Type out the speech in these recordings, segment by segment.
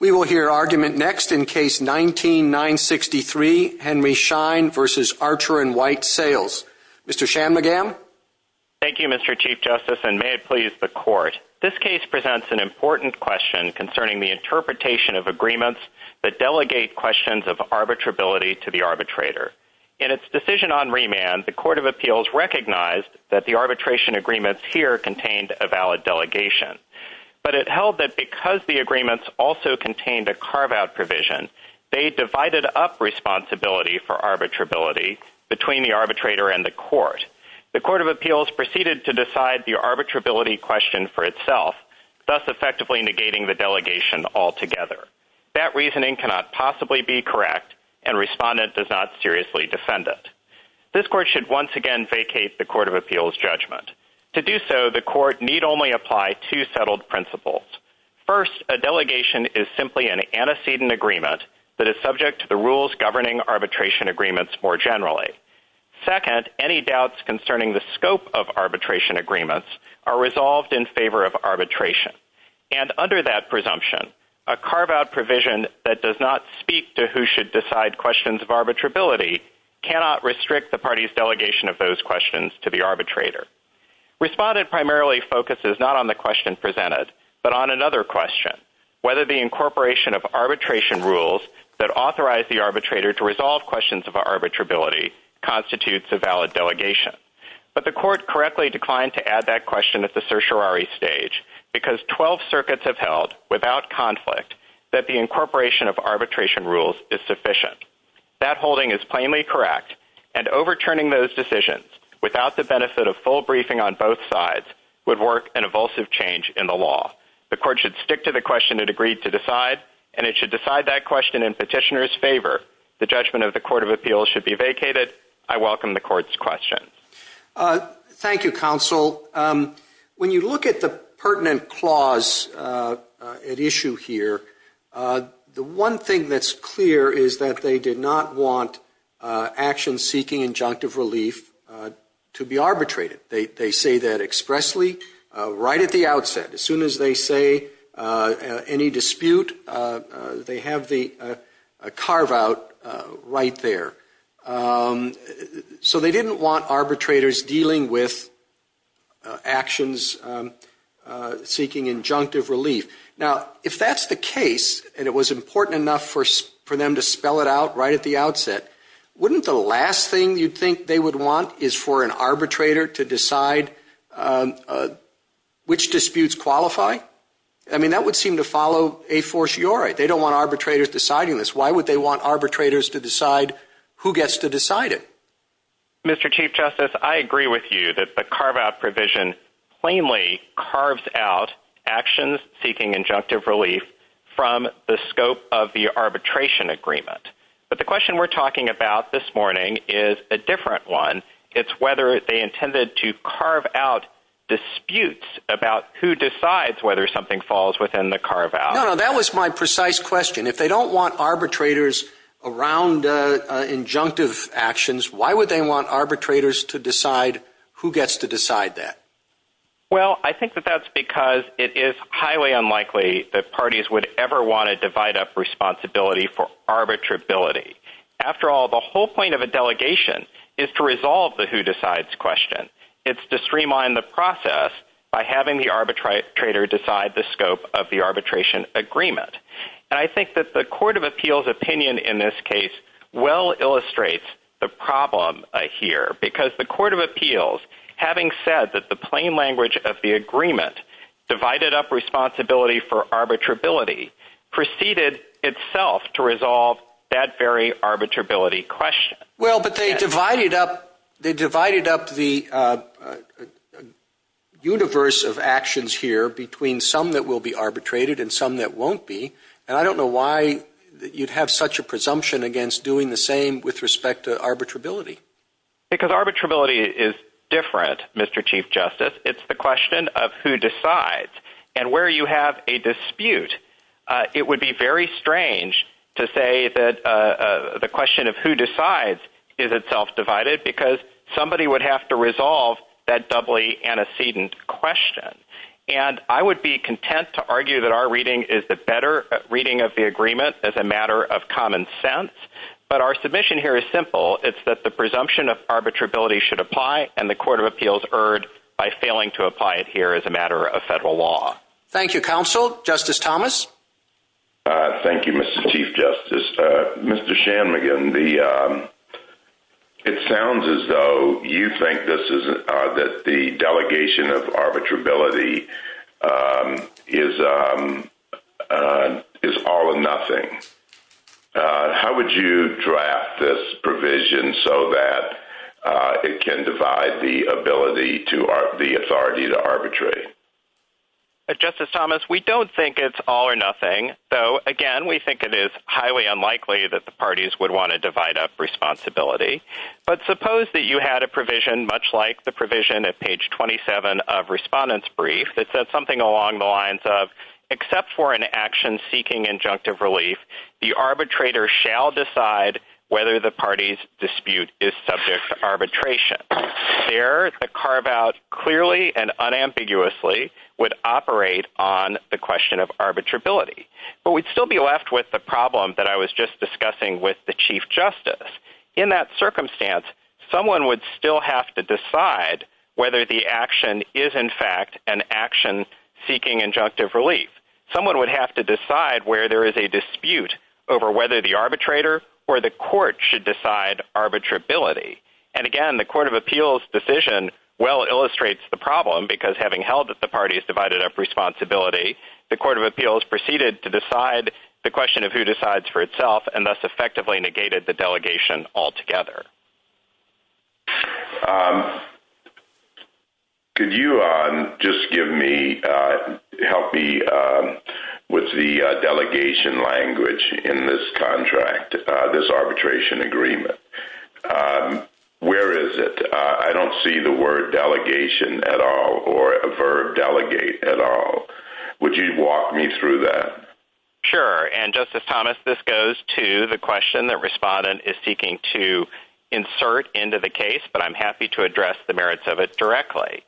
We will hear argument next in Case 19-963, Henry Schein v. Archer & White Sales. Mr. Shanmugam? Thank you, Mr. Chief Justice, and may it please the Court. This case presents an important question concerning the interpretation of agreements that delegate questions of arbitrability to the arbitrator. In its decision on remand, the Court of Appeals recognized that the arbitration agreements here contained a valid delegation. But it held that because the agreements also contained a carve-out provision, they divided up responsibility for arbitrability between the arbitrator and the Court. The Court of Appeals proceeded to decide the arbitrability question for itself, thus effectively negating the delegation altogether. That reasoning cannot possibly be correct, and Respondent does not seriously defend it. This Court should once again vacate the Court of Appeals' judgment. To do so, the Court need only apply two settled principles. First, a delegation is simply an antecedent agreement that is subject to the rules governing arbitration agreements more generally. Second, any doubts concerning the scope of arbitration agreements are resolved in favor of arbitration. And under that presumption, a carve-out provision that does not speak to who should decide questions of arbitrability cannot restrict the party's delegation of those questions to the arbitrator. Respondent primarily focuses not on the question presented, but on another question, whether the incorporation of arbitration rules that authorize the arbitrator to resolve questions of arbitrability constitutes a valid delegation. But the Court correctly declined to add that question at the certiorari stage, because 12 circuits have held, without conflict, that the incorporation of arbitration rules is sufficient. That holding is plainly correct, and overturning those decisions, without the benefit of full briefing on both sides, would work an evulsive change in the law. The Court should stick to the question it agreed to decide, and it should decide that question in petitioner's favor. The judgment of the Court of Appeals should be vacated. I welcome the Court's questions. Thank you, Counsel. When you look at the pertinent clause at issue here, the one thing that's clear is that they did not want action seeking injunctive relief to be arbitrated. They say that expressly, right at the outset. As soon as they say any dispute, they have the carve-out right there. So they didn't want arbitrators dealing with actions seeking injunctive relief. Now, if that's the case, and it was important enough for them to spell it out right at the outset, wouldn't the last thing you'd think they would want is for an arbitrator to decide which disputes qualify? I mean, that would seem to follow a fortiori. They don't want arbitrators deciding this. Why would they want arbitrators to decide who gets to decide it? Mr. Chief Justice, I agree with you that the carve-out provision plainly carves out actions seeking injunctive relief from the scope of the arbitration agreement. But the question we're talking about this morning is a different one. It's whether they intended to carve out disputes about who decides whether something falls within the carve-out. No, no, that was my precise question. If they don't want arbitrators around injunctive actions, why would they want arbitrators to decide who gets to decide that? Well, I think that that's because it is highly unlikely that parties would ever want to divide up responsibility for arbitrability. After all, the whole point of a delegation is to resolve the who decides question. It's to streamline the process by having the arbitrator decide the scope of the arbitration agreement. And I think that the Court of Appeals' opinion in this case well illustrates the problem here. Because the Court of Appeals, having said that the plain language of the agreement divided up responsibility for arbitrability, preceded itself to resolve that very arbitrability question. Well, but they divided up the universe of actions here between some that will be arbitrated and some that won't be. And I don't know why you'd have such a presumption against doing the same with respect to arbitrability. Because arbitrability is different, Mr. Chief Justice. It's the question of who decides. And where you have a dispute, it would be very strange to say that the question of who decides is itself divided because somebody would have to resolve that doubly antecedent question. And I would be content to argue that our reading is the better reading of the agreement as a matter of common sense. But our submission here is simple. It's that the presumption of arbitrability should apply, and the Court of Appeals erred by failing to apply it here as a matter of federal law. Thank you, Counsel. Justice Thomas? Thank you, Mr. Chief Justice. Mr. Shanmugam, it sounds as though you think that the delegation of arbitrability is all or nothing. How would you draft this provision so that it can divide the authority to arbitrate? Justice Thomas, we don't think it's all or nothing. So, again, we think it is highly unlikely that the parties would want to divide up responsibility. But suppose that you had a provision much like the provision at page 27 of Respondent's Brief that said something along the lines of, except for an action seeking injunctive relief, the arbitrator shall decide whether the party's dispute is subject to arbitration. There, the carve-out clearly and unambiguously would operate on the question of arbitrability. But we'd still be left with the problem that I was just discussing with the Chief Justice. In that circumstance, someone would still have to decide whether the action is, in fact, an action seeking injunctive relief. Someone would have to decide where there is a dispute over whether the arbitrator or the court should decide arbitrability. And, again, the Court of Appeals' decision well illustrates the problem, because having held that the parties divided up responsibility, the Court of Appeals proceeded to decide the question of who decides for itself and thus effectively negated the delegation altogether. Could you just help me with the delegation language in this contract, this arbitration agreement? Where is it? I don't see the word delegation at all or a verb delegate at all. Would you walk me through that? Sure. And, Justice Thomas, this goes to the question that Respondent is seeking to insert into the case, but I'm happy to address the merits of it directly.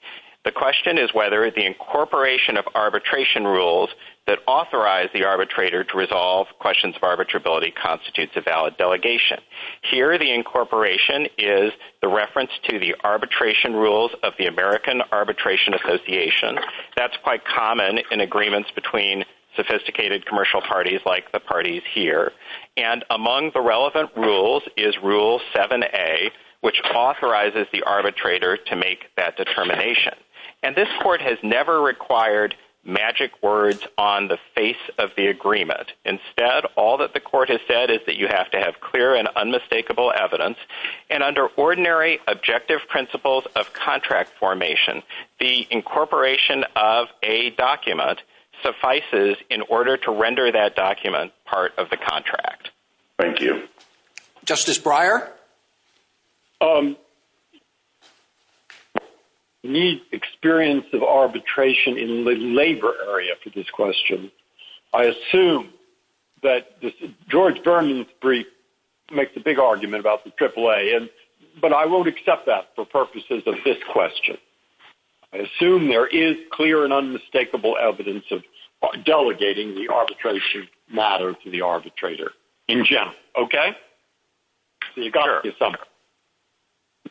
The question is whether the incorporation of arbitration rules that authorize the arbitrator to resolve questions of arbitrability constitutes a valid delegation. Here, the incorporation is the reference to the arbitration rules of the American Arbitration Association. That's quite common in agreements between sophisticated commercial parties like the parties here. And among the relevant rules is Rule 7a, which authorizes the arbitrator to make that determination. And this court has never required magic words on the face of the agreement. Instead, all that the court has said is that you have to have clear and unmistakable evidence. And under ordinary objective principles of contract formation, the incorporation of a document suffices in order to render that document part of the contract. Thank you. Justice Breyer? Neat experience of arbitration in the labor area for this question. I assume that George Berman's brief makes a big argument about the AAA, but I won't accept that for purposes of this question. I assume there is clear and unmistakable evidence of delegating the arbitration matter to the arbitrator in general. Okay?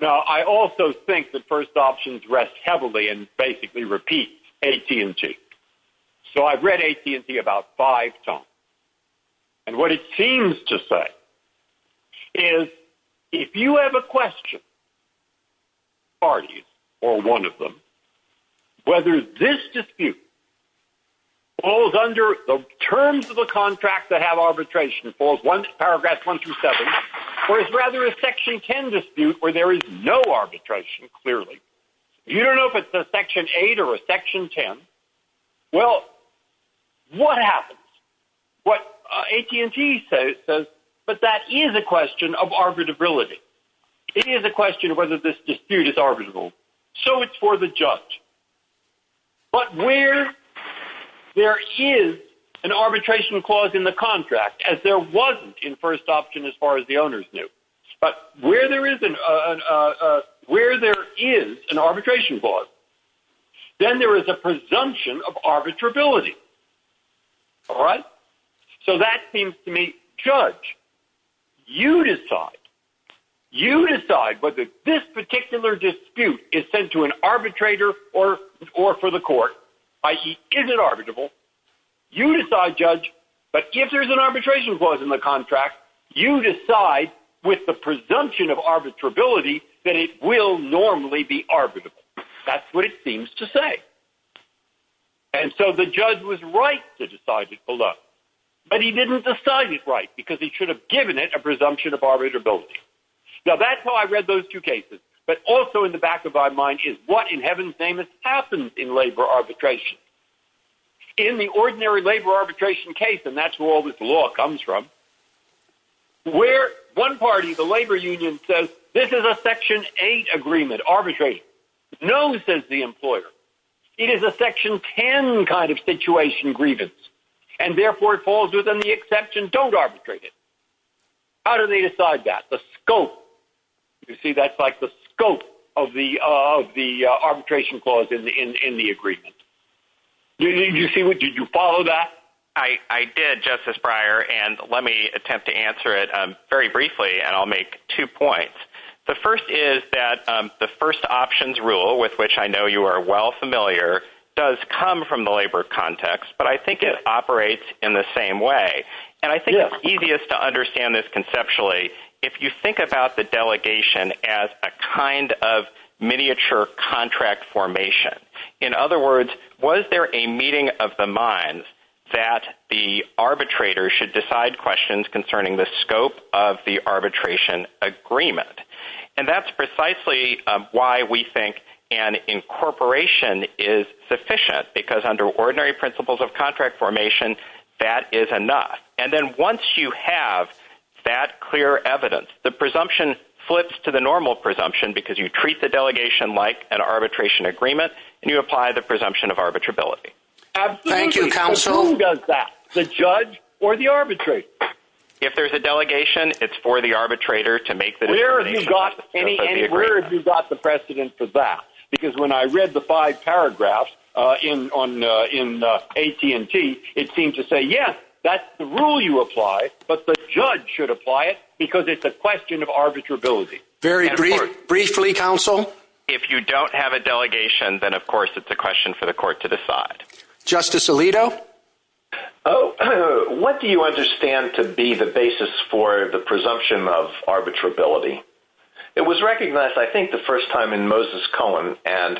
Now, I also think that first options rests heavily and basically repeats AT&T. So I've read AT&T about five times. And what it seems to say is if you have a question, parties or one of them, whether this dispute falls under the terms of a contract that have arbitration, falls once to paragraphs 1 through 7, or is rather a Section 10 dispute where there is no arbitration, clearly. You don't know if it's a Section 8 or a Section 10. Well, what happens? What AT&T says, but that is a question of arbitrability. It is a question of whether this dispute is arbitrable. So it's for the judge. But where there is an arbitration clause in the contract, as there wasn't in first option as far as the owners knew, but where there is an arbitration clause, then there is a presumption of arbitrability. All right? So that seems to me, judge, you decide. You decide whether this particular dispute is sent to an arbitrator or for the court, i.e., is it arbitrable. You decide, judge. But if there is an arbitration clause in the contract, you decide with the presumption of arbitrability that it will normally be arbitrable. That's what it seems to say. And so the judge was right to decide it below. But he didn't decide it right because he should have given it a presumption of arbitrability. Now, that's how I read those two cases. But also in the back of my mind is what in heaven's name has happened in labor arbitration. In the ordinary labor arbitration case, and that's where all this law comes from, where one party, the labor union, says this is a section 8 agreement, arbitration. No, says the employer. It is a section 10 kind of situation grievance. And therefore, it falls within the exemption, don't arbitrate it. How do they decide that? The scope. You see, that's like the scope of the arbitration clause in the agreement. Did you follow that? I did, Justice Breyer, and let me attempt to answer it very briefly, and I'll make two points. The first is that the first options rule, with which I know you are well familiar, does come from the labor context, but I think it operates in the same way. And I think it's easiest to understand this conceptually. If you think about the delegation as a kind of miniature contract formation, in other words, was there a meeting of the minds that the arbitrator should decide questions concerning the scope of the arbitration agreement? And that's precisely why we think an incorporation is sufficient, because under ordinary principles of contract formation, that is enough. And then once you have that clear evidence, the presumption flips to the normal presumption, because you treat the delegation like an arbitration agreement, and you apply the presumption of arbitrability. Absolutely. Who does that? The judge or the arbitrator? If there's a delegation, it's for the arbitrator to make the decision. Where have you got the precedent for that? Because when I read the five paragraphs in AT&T, it seemed to say, yes, that's the rule you apply, but the judge should apply it, because it's a question of arbitrability. Very briefly, counsel? If you don't have a delegation, then of course it's a question for the court to decide. Justice Alito? What do you understand to be the basis for the presumption of arbitrability? It was recognized, I think, the first time in Moses Cohen, and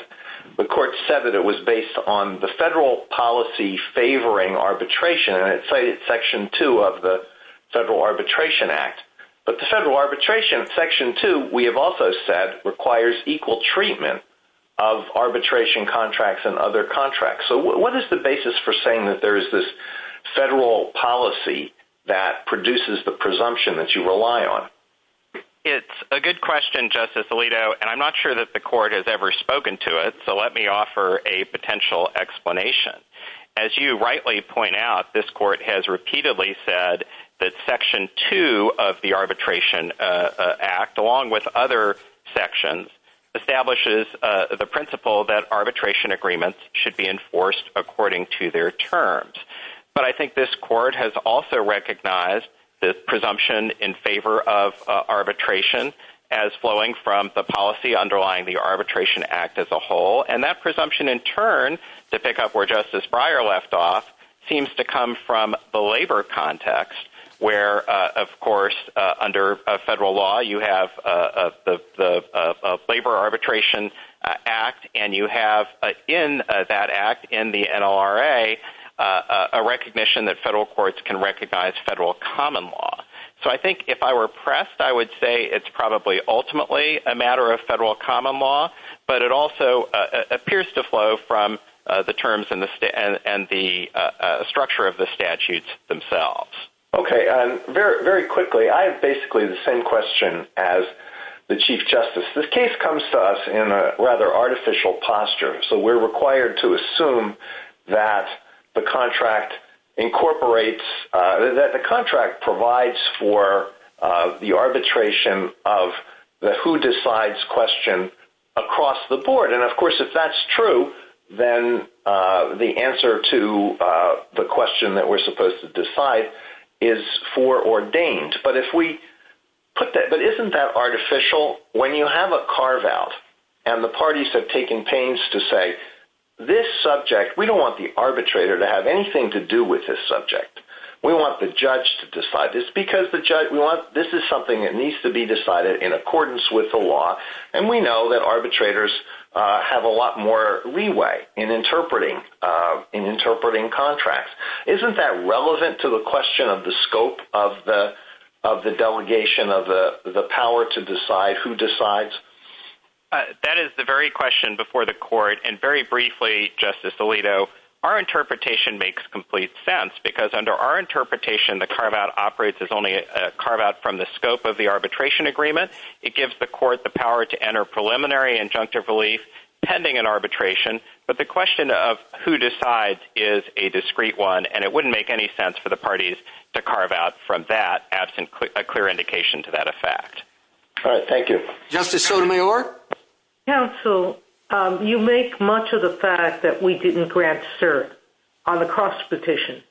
the court said that it was based on the federal policy favoring arbitration, and it's section two of the Federal Arbitration Act. But the federal arbitration, section two, we have also said, requires equal treatment of arbitration contracts and other contracts. So what is the basis for saying that there is this federal policy that produces the presumption that you rely on? It's a good question, Justice Alito, and I'm not sure that the court has ever spoken to it, so let me offer a potential explanation. As you rightly point out, this court has repeatedly said that section two of the Arbitration Act, along with other sections, establishes the principle that arbitration agreements should be enforced according to their terms. But I think this court has also recognized the presumption in favor of arbitration as flowing from the policy underlying the Arbitration Act as a whole. And that presumption, in turn, to pick up where Justice Breyer left off, seems to come from the labor context, where, of course, under federal law, you have the Labor Arbitration Act, and you have in that act, in the NLRA, a recognition that federal courts can recognize federal common law. So I think if I were pressed, I would say it's probably ultimately a matter of federal common law, but it also appears to flow from the terms and the structure of the statutes themselves. Very quickly, I have basically the same question as the Chief Justice. This case comes to us in a rather artificial posture, so we're required to assume that the contract provides for the arbitration of the who-decides question across the board. And, of course, if that's true, then the answer to the question that we're supposed to decide is foreordained. But isn't that artificial? When you have a carve-out, and the parties have taken pains to say, this subject, we don't want the arbitrator to have anything to do with this subject. We want the judge to decide this, because this is something that needs to be decided in accordance with the law, and we know that arbitrators have a lot more leeway in interpreting contracts. Isn't that relevant to the question of the scope of the delegation of the power to decide who decides? That is the very question before the court, and very briefly, Justice Alito, our interpretation makes complete sense, because under our interpretation, the carve-out operates as only a carve-out from the scope of the arbitration agreement. It gives the court the power to enter preliminary injunctive relief pending an arbitration, but the question of who decides is a discrete one, and it wouldn't make any sense for the parties to carve-out from that, absent a clear indication to that effect. Thank you. Justice Sotomayor? Counsel, you make much of the fact that we didn't grant cert on the cross-petition,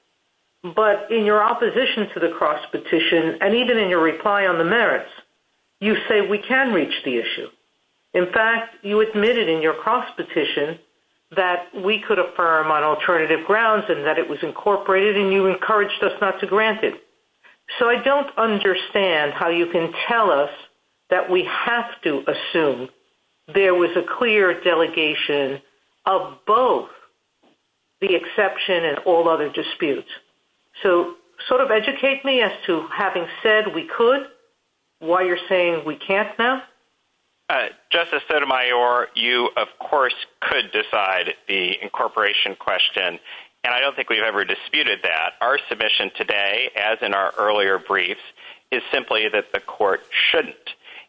but in your opposition to the cross-petition, and even in your reply on the merits, you say we can reach the issue. In fact, you admitted in your cross-petition that we could affirm on alternative grounds, and that it was incorporated, and you encouraged us not to grant it. So I don't understand how you can tell us that we have to assume there was a clear delegation of both the exception and all other disputes. So sort of educate me as to having said we could, why you're saying we can't now? Justice Sotomayor, you, of course, could decide the incorporation question, and I don't think we've ever disputed that. Our submission today, as in our earlier briefs, is simply that the court shouldn't.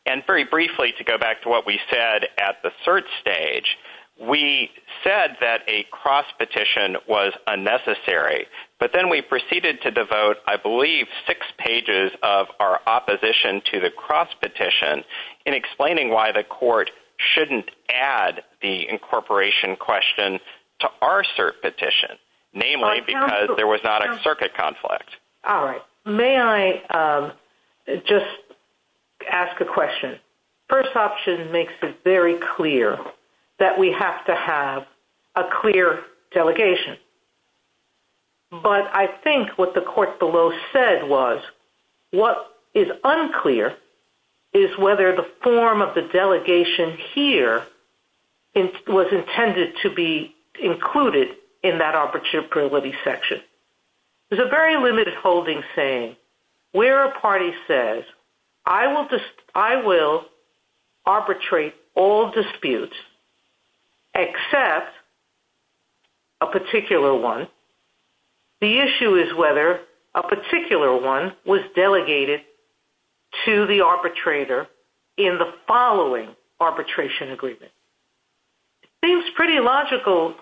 And very briefly, to go back to what we said at the cert stage, we said that a cross-petition was unnecessary. But then we proceeded to devote, I believe, six pages of our opposition to the cross-petition in explaining why the court shouldn't add the incorporation question to our cert petition, namely because there was not a circuit conflict. All right. May I just ask a question? First option makes it very clear that we have to have a clear delegation. But I think what the court below said was what is unclear is whether the form of the delegation here was intended to be included in that opportunity section. There's a very limited holding saying where a party says, I will arbitrate all disputes except a particular one. The issue is whether a particular one was delegated to the arbitrator in the following arbitration agreement. It seems pretty logical.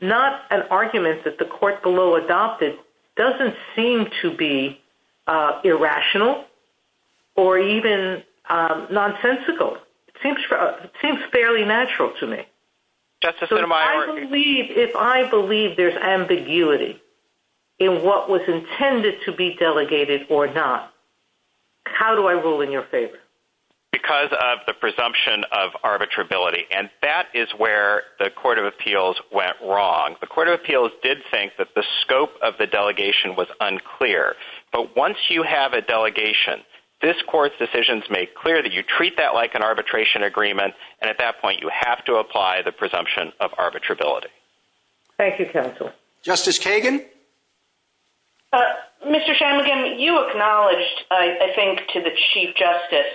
Not an argument that the court below adopted doesn't seem to be irrational or even nonsensical. It seems fairly natural to me. If I believe there's ambiguity in what was intended to be delegated or not, how do I rule in your favor? Because of the presumption of arbitrability. And that is where the Court of Appeals went wrong. The Court of Appeals did think that the scope of the delegation was unclear. But once you have a delegation, this court's decisions make clear that you treat that like an arbitration agreement. And at that point, you have to apply the presumption of arbitrability. Thank you, counsel. Justice Kagan? Mr. Shamagin, you acknowledged, I think, to the Chief Justice,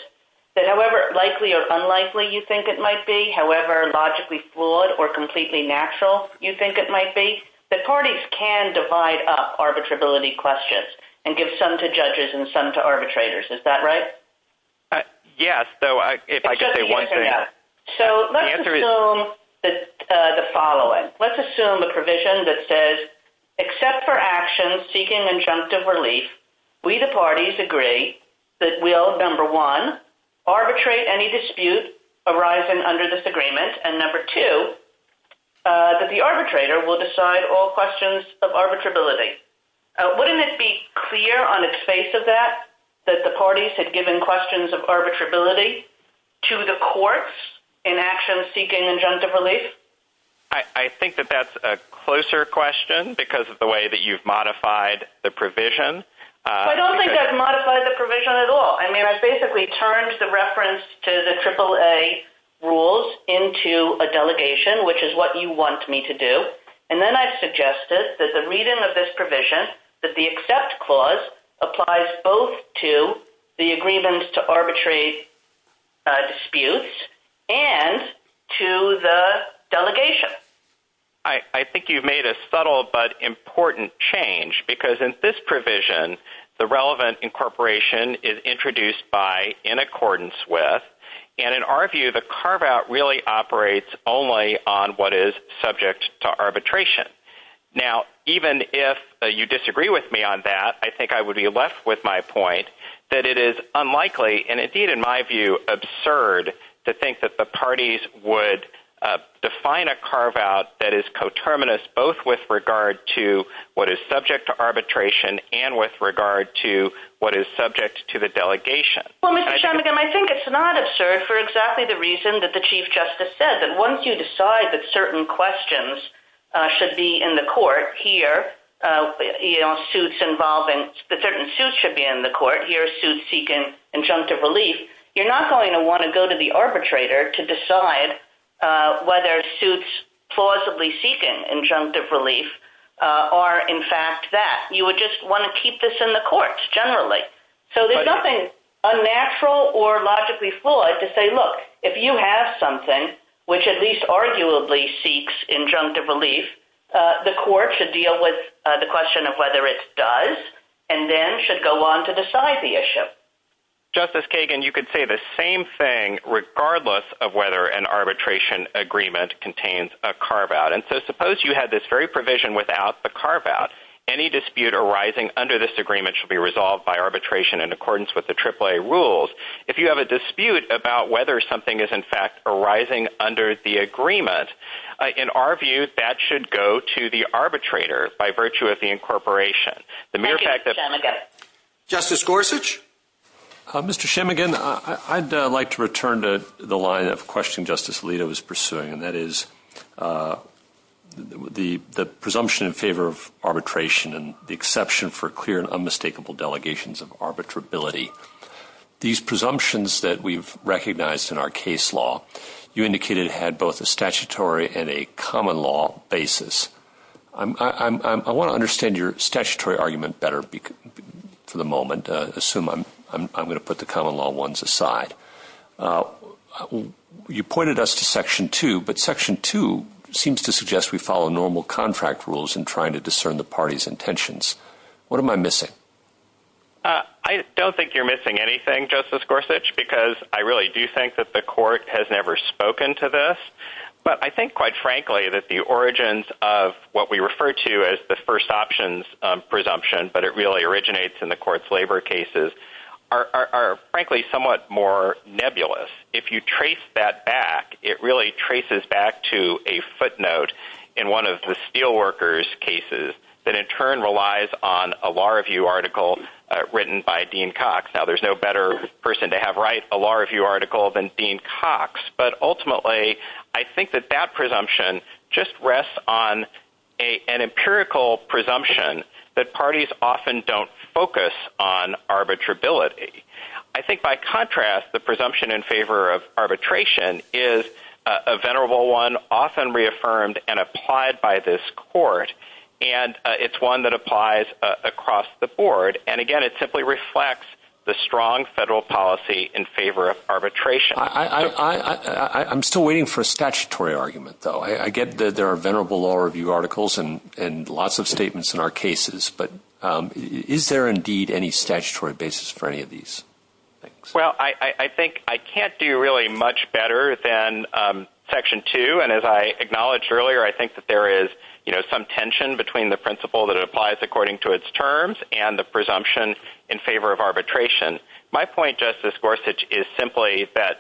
that however likely or unlikely you think it might be, however logically flawed or completely natural you think it might be, that parties can divide up arbitrability questions and give some to judges and some to arbitrators. Is that right? Yes, if I could say one thing. Let's assume the following. Let's assume a provision that says, except for actions seeking injunctive relief, we the parties agree that we'll, number one, arbitrate any dispute arising under disagreement, and number two, that the arbitrator will decide all questions of arbitrability. Wouldn't it be clear on its face of that that the parties had given questions of arbitrability to the courts in actions seeking injunctive relief? I think that that's a closer question because of the way that you've modified the provision. I don't think I've modified the provision at all. I mean, I basically turned the reference to the AAA rules into a delegation, which is what you want me to do. And then I've suggested that the reading of this provision, that the except clause, applies both to the agreement to arbitrary disputes and to the delegation. I think you've made a subtle but important change because in this provision, the relevant incorporation is introduced by in accordance with, and in our view, the carve-out really operates only on what is subject to arbitration. Now, even if you disagree with me on that, I think I would be left with my point that it is unlikely, and indeed, in my view, absurd to think that the parties would define a carve-out that is coterminous, both with regard to what is subject to arbitration and with regard to what is subject to the delegation. Well, Mr. Sherman, I think it's not absurd for exactly the reason that the Chief Justice said, that once you decide that certain questions should be in the court here, suits involving certain suits should be in the court, here are suits seeking injunctive relief, you're not going to want to go to the arbitrator to decide whether suits plausibly seeking injunctive relief are in fact that. You would just want to keep this in the courts generally. So there's nothing unnatural or logically flawed to say, look, if you have something, which at least arguably seeks injunctive relief, the court should deal with the question of whether it does, and then should go on to decide the issue. Justice Kagan, you could say the same thing regardless of whether an arbitration agreement contains a carve-out. And so suppose you had this very provision without the carve-out. Any dispute arising under this agreement should be resolved by arbitration in accordance with the AAA rules. If you have a dispute about whether something is in fact arising under the agreement, in our view, that should go to the arbitrator by virtue of the incorporation. Justice Gorsuch? Mr. Shemigan, I'd like to return to the line of question Justice Alito was pursuing, and that is the presumption in favor of arbitration and the exception for clear and unmistakable delegations of arbitrability. These presumptions that we've recognized in our case law, you indicated had both a statutory and a common law basis. I want to understand your statutory argument better for the moment. Assume I'm going to put the common law ones aside. You pointed us to Section 2, but Section 2 seems to suggest we follow normal contract rules in trying to discern the party's intentions. What am I missing? I don't think you're missing anything, Justice Gorsuch, because I really do think that the court has never spoken to this. But I think, quite frankly, that the origins of what we refer to as the first options presumption, but it really originates in the court's labor cases, are, frankly, somewhat more nebulous. If you trace that back, it really traces back to a footnote in one of the Steelworkers' cases that in turn relies on a Law Review article written by Dean Cox. Now, there's no better person to have write a Law Review article than Dean Cox, but ultimately, I think that that presumption just rests on an empirical presumption that parties often don't focus on arbitrability. I think, by contrast, the presumption in favor of arbitration is a venerable one often reaffirmed and applied by this court, and it's one that applies across the board. And, again, it simply reflects the strong federal policy in favor of arbitration. I'm still waiting for a statutory argument, though. I get that there are venerable Law Review articles and lots of statements in our cases, but is there indeed any statutory basis for any of these? Well, I think I can't do really much better than Section 2, and as I acknowledged earlier, I think that there is some tension between the principle that it applies according to its terms and the presumption in favor of arbitration. My point, Justice Gorsuch, is simply that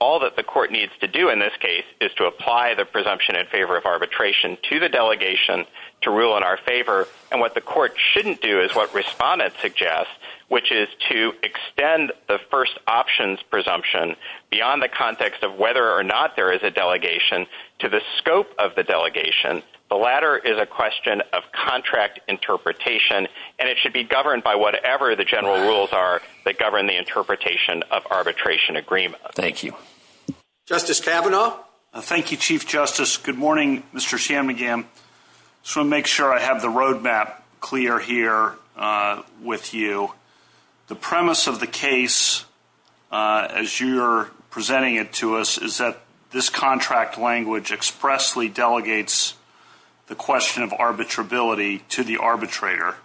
all that the court needs to do in this case is to apply the presumption in favor of arbitration to the delegation to rule in our favor, and what the court shouldn't do is what Respondent suggests, which is to extend the first options presumption beyond the context of whether or not there is a delegation to the scope of the delegation. The latter is a question of contract interpretation, and it should be governed by whatever the general rules are that govern the interpretation of arbitration agreement. Thank you. Justice Kavanaugh? Thank you, Chief Justice. Good morning, Mr. Shammugam. I just want to make sure I have the roadmap clear here with you. The premise of the case, as you're presenting it to us, is that this contract language expressly delegates the question of arbitrability to the arbitrator.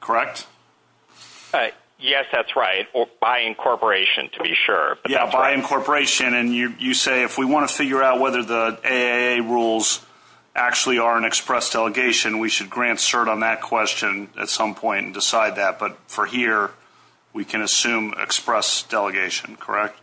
Correct? Yes, that's right, or by incorporation, to be sure. Yeah, by incorporation, and you say if we want to figure out whether the AAA rules actually are an express delegation, we should grant cert on that question at some point and decide that, but for here, we can assume express delegation, correct?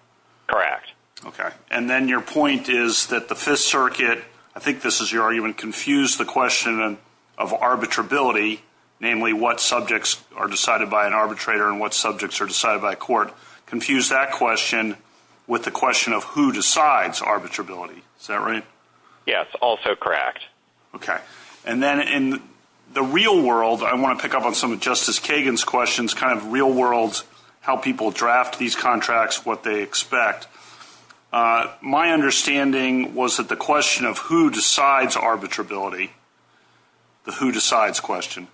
Correct. Okay, and then your point is that the Fifth Circuit, I think this is your argument, confused the question of arbitrability, namely what subjects are decided by an arbitrator and what subjects are decided by a court, confused that question with the question of who decides arbitrability. Is that right? Yes, also correct. Okay, and then in the real world, I want to pick up on some of Justice Kagan's questions, kind of real world how people draft these contracts, what they expect. My understanding was that the question of who decides arbitrability, the who decides question,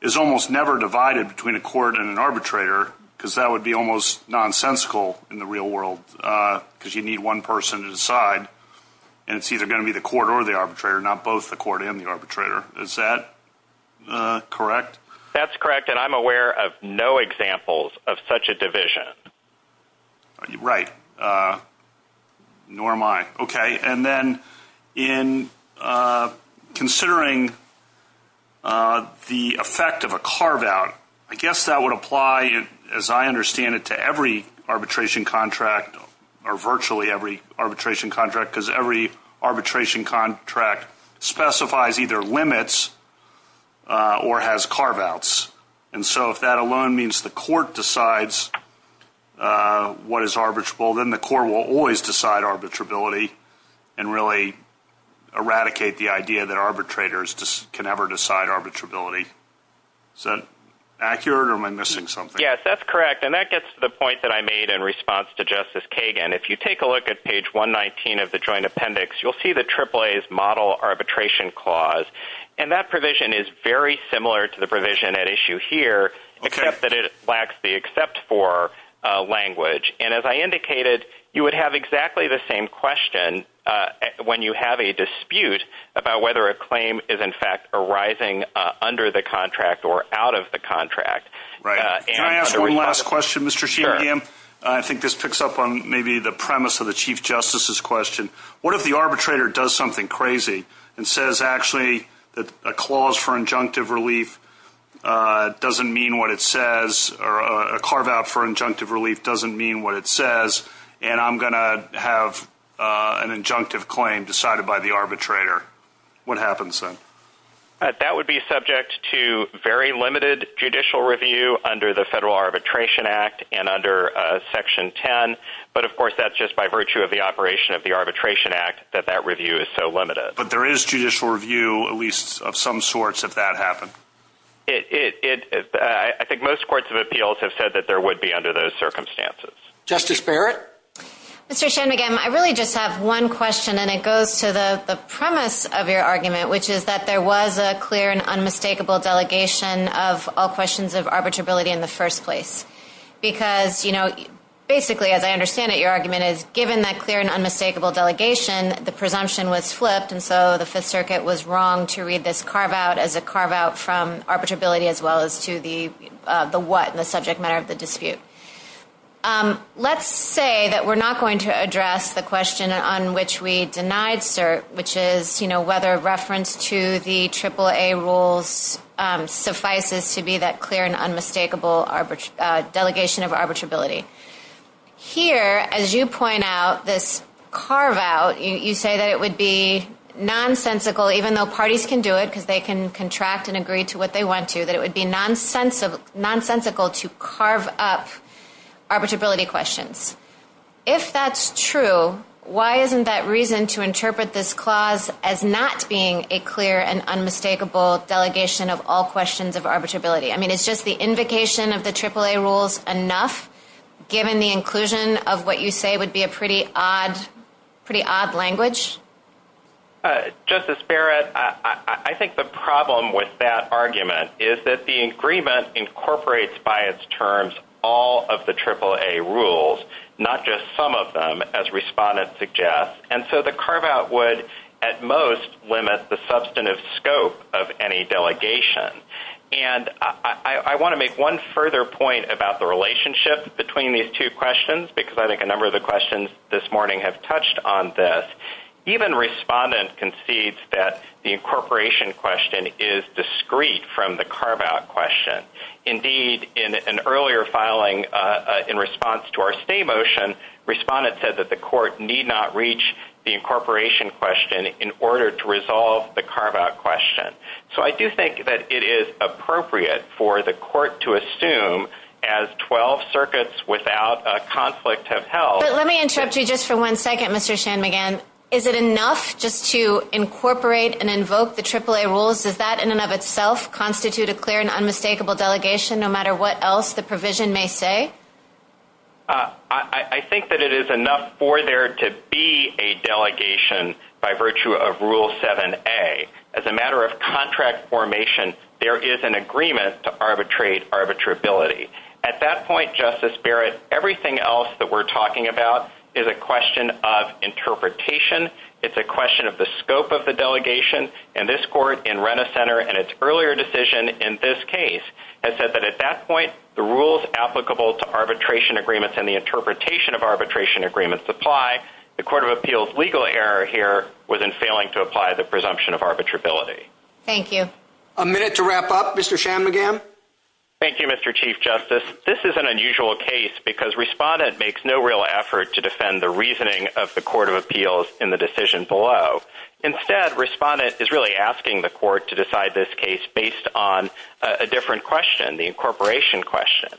is almost never divided between a court and an arbitrator because that would be almost nonsensical in the real world because you need one person to decide, and it's either going to be the court or the arbitrator, not both the court and the arbitrator. Is that correct? That's correct, and I'm aware of no examples of such a division. Right, nor am I. Okay, and then in considering the effect of a carve-out, I guess that would apply, as I understand it, to every arbitration contract or virtually every arbitration contract because every arbitration contract specifies either limits or has carve-outs, and so if that alone means the court decides what is arbitrable, then the court will always decide arbitrability and really eradicate the idea that arbitrators can never decide arbitrability. Is that accurate, or am I missing something? Yes, that's correct, and that gets to the point that I made in response to Justice Kagan. If you take a look at page 119 of the Joint Appendix, you'll see the AAA's model arbitration clause, and that provision is very similar to the provision at issue here, except that it lacks the except for language, and as I indicated, you would have exactly the same question when you have a dispute about whether a claim is, in fact, arising under the contract or out of the contract. Right, can I ask one last question, Mr. Sheerhan? Sure. I think this picks up on maybe the premise of the Chief Justice's question. What if the arbitrator does something crazy and says actually that a clause for injunctive relief doesn't mean what it says or a carve-out for injunctive relief doesn't mean what it says, and I'm going to have an injunctive claim decided by the arbitrator? What happens then? That would be subject to very limited judicial review under the Federal Arbitration Act and under Section 10, but of course that's just by virtue of the operation of the Arbitration Act that that review is so limited. But there is judicial review, at least of some sorts, if that happened? I think most courts of appeals have said that there would be under those circumstances. Justice Barrett? Mr. Shanmugam, I really just have one question, and it goes to the premise of your argument, which is that there was a clear and unmistakable delegation of all questions of arbitrability in the first place, because basically, as I understand it, your argument is given that clear and unmistakable delegation, the presumption was flipped, and so the Fifth Circuit was wrong to read this carve-out as a carve-out from arbitrability as well as to the what, the subject matter of the dispute. Let's say that we're not going to address the question on which we denied cert, which is whether reference to the AAA rules suffices to be that clear and unmistakable delegation of arbitrability. Here, as you point out, this carve-out, you say that it would be nonsensical, even though parties can do it because they can contract and agree to what they want to, that it would be nonsensical to carve up arbitrability questions. If that's true, why isn't that reason to interpret this clause as not being a clear and unmistakable delegation of all questions of arbitrability? I mean, is just the invocation of the AAA rules enough, given the inclusion of what you say would be a pretty odd language? Justice Barrett, I think the problem with that argument is that the agreement incorporates by its terms all of the AAA rules, not just some of them, as respondents suggest, and so the carve-out would at most limit the substantive scope of any delegation. And I want to make one further point about the relationship between these two questions, because I think a number of the questions this morning have touched on this. Even respondents concede that the incorporation question is discreet from the carve-out question. Indeed, in an earlier filing in response to our stay motion, respondents said that the court need not reach the incorporation question in order to resolve the carve-out question. So I do think that it is appropriate for the court to assume, as 12 circuits without a conflict have held. But let me interrupt you just for one second, Mr. Shanmugam. Is it enough just to incorporate and invoke the AAA rules? Does that in and of itself constitute a clear and unmistakable delegation, no matter what else the provision may say? I think that it is enough for there to be a delegation by virtue of Rule 7a. As a matter of contract formation, there is an agreement to arbitrate arbitrability. At that point, Justice Barrett, everything else that we're talking about is a question of interpretation. It's a question of the scope of the delegation. And this court in Renna Center, in its earlier decision in this case, has said that at that point, the rules applicable to arbitration agreements and the interpretation of arbitration agreements apply. The Court of Appeals' legal error here was in failing to apply the presumption of arbitrability. Thank you. A minute to wrap up, Mr. Shanmugam. Thank you, Mr. Chief Justice. This is an unusual case because Respondent makes no real effort to defend the reasoning of the Court of Appeals in the decision below. Instead, Respondent is really asking the court to decide this case based on a different question, the incorporation question.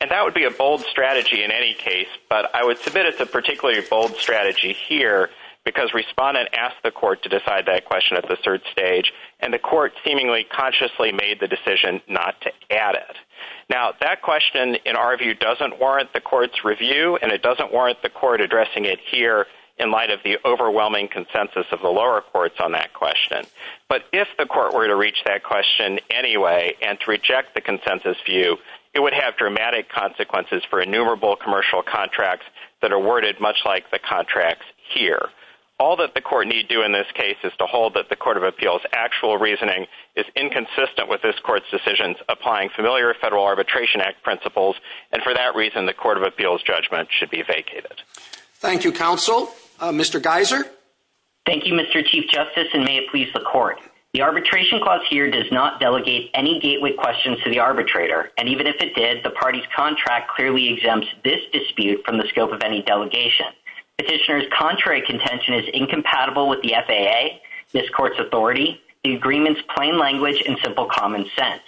And that would be a bold strategy in any case, but I would submit it's a particularly bold strategy here because Respondent asked the court to decide that question at the third stage, and the court seemingly consciously made the decision not to add it. Now, that question, in our view, doesn't warrant the court's review, and it doesn't warrant the court addressing it here in light of the overwhelming consensus of the lower courts on that question. But if the court were to reach that question anyway and to reject the consensus view, it would have dramatic consequences for innumerable commercial contracts that are worded much like the contracts here. All that the court need do in this case is to hold that the Court of Appeals' actual reasoning is inconsistent with this court's decisions applying familiar Federal Arbitration Act principles, and for that reason, the Court of Appeals' judgment should be vacated. Thank you, counsel. Mr. Geiser? Thank you, Mr. Chief Justice, and may it please the court. The arbitration clause here does not delegate any gateway questions to the arbitrator, and even if it did, the party's contract clearly exempts this dispute from the scope of any delegation. Petitioner's contrary contention is incompatible with the FAA, this court's authority, the agreement's plain language, and simple common sense.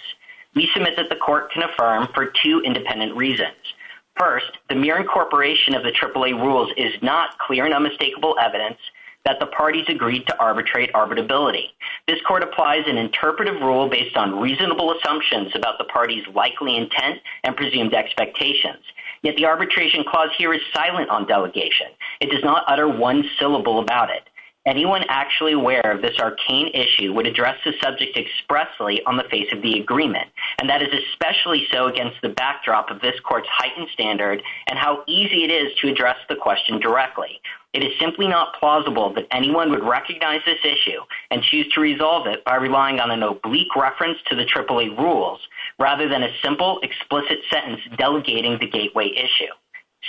We submit that the court can affirm for two independent reasons. First, the mere incorporation of the AAA rules is not clear and unmistakable evidence that the parties agreed to arbitrate arbitrability. This court applies an interpretive rule based on reasonable assumptions about the party's likely intent and presumed expectations. Yet the arbitration clause here is silent on delegation. It does not utter one syllable about it. Anyone actually aware of this arcane issue would address the subject expressly on the face of the agreement, and that is especially so against the backdrop of this court's heightened standard and how easy it is to address the question directly. It is simply not plausible that anyone would recognize this issue and choose to resolve it by relying on an oblique reference to the AAA rules, rather than a simple, explicit sentence delegating the gateway issue.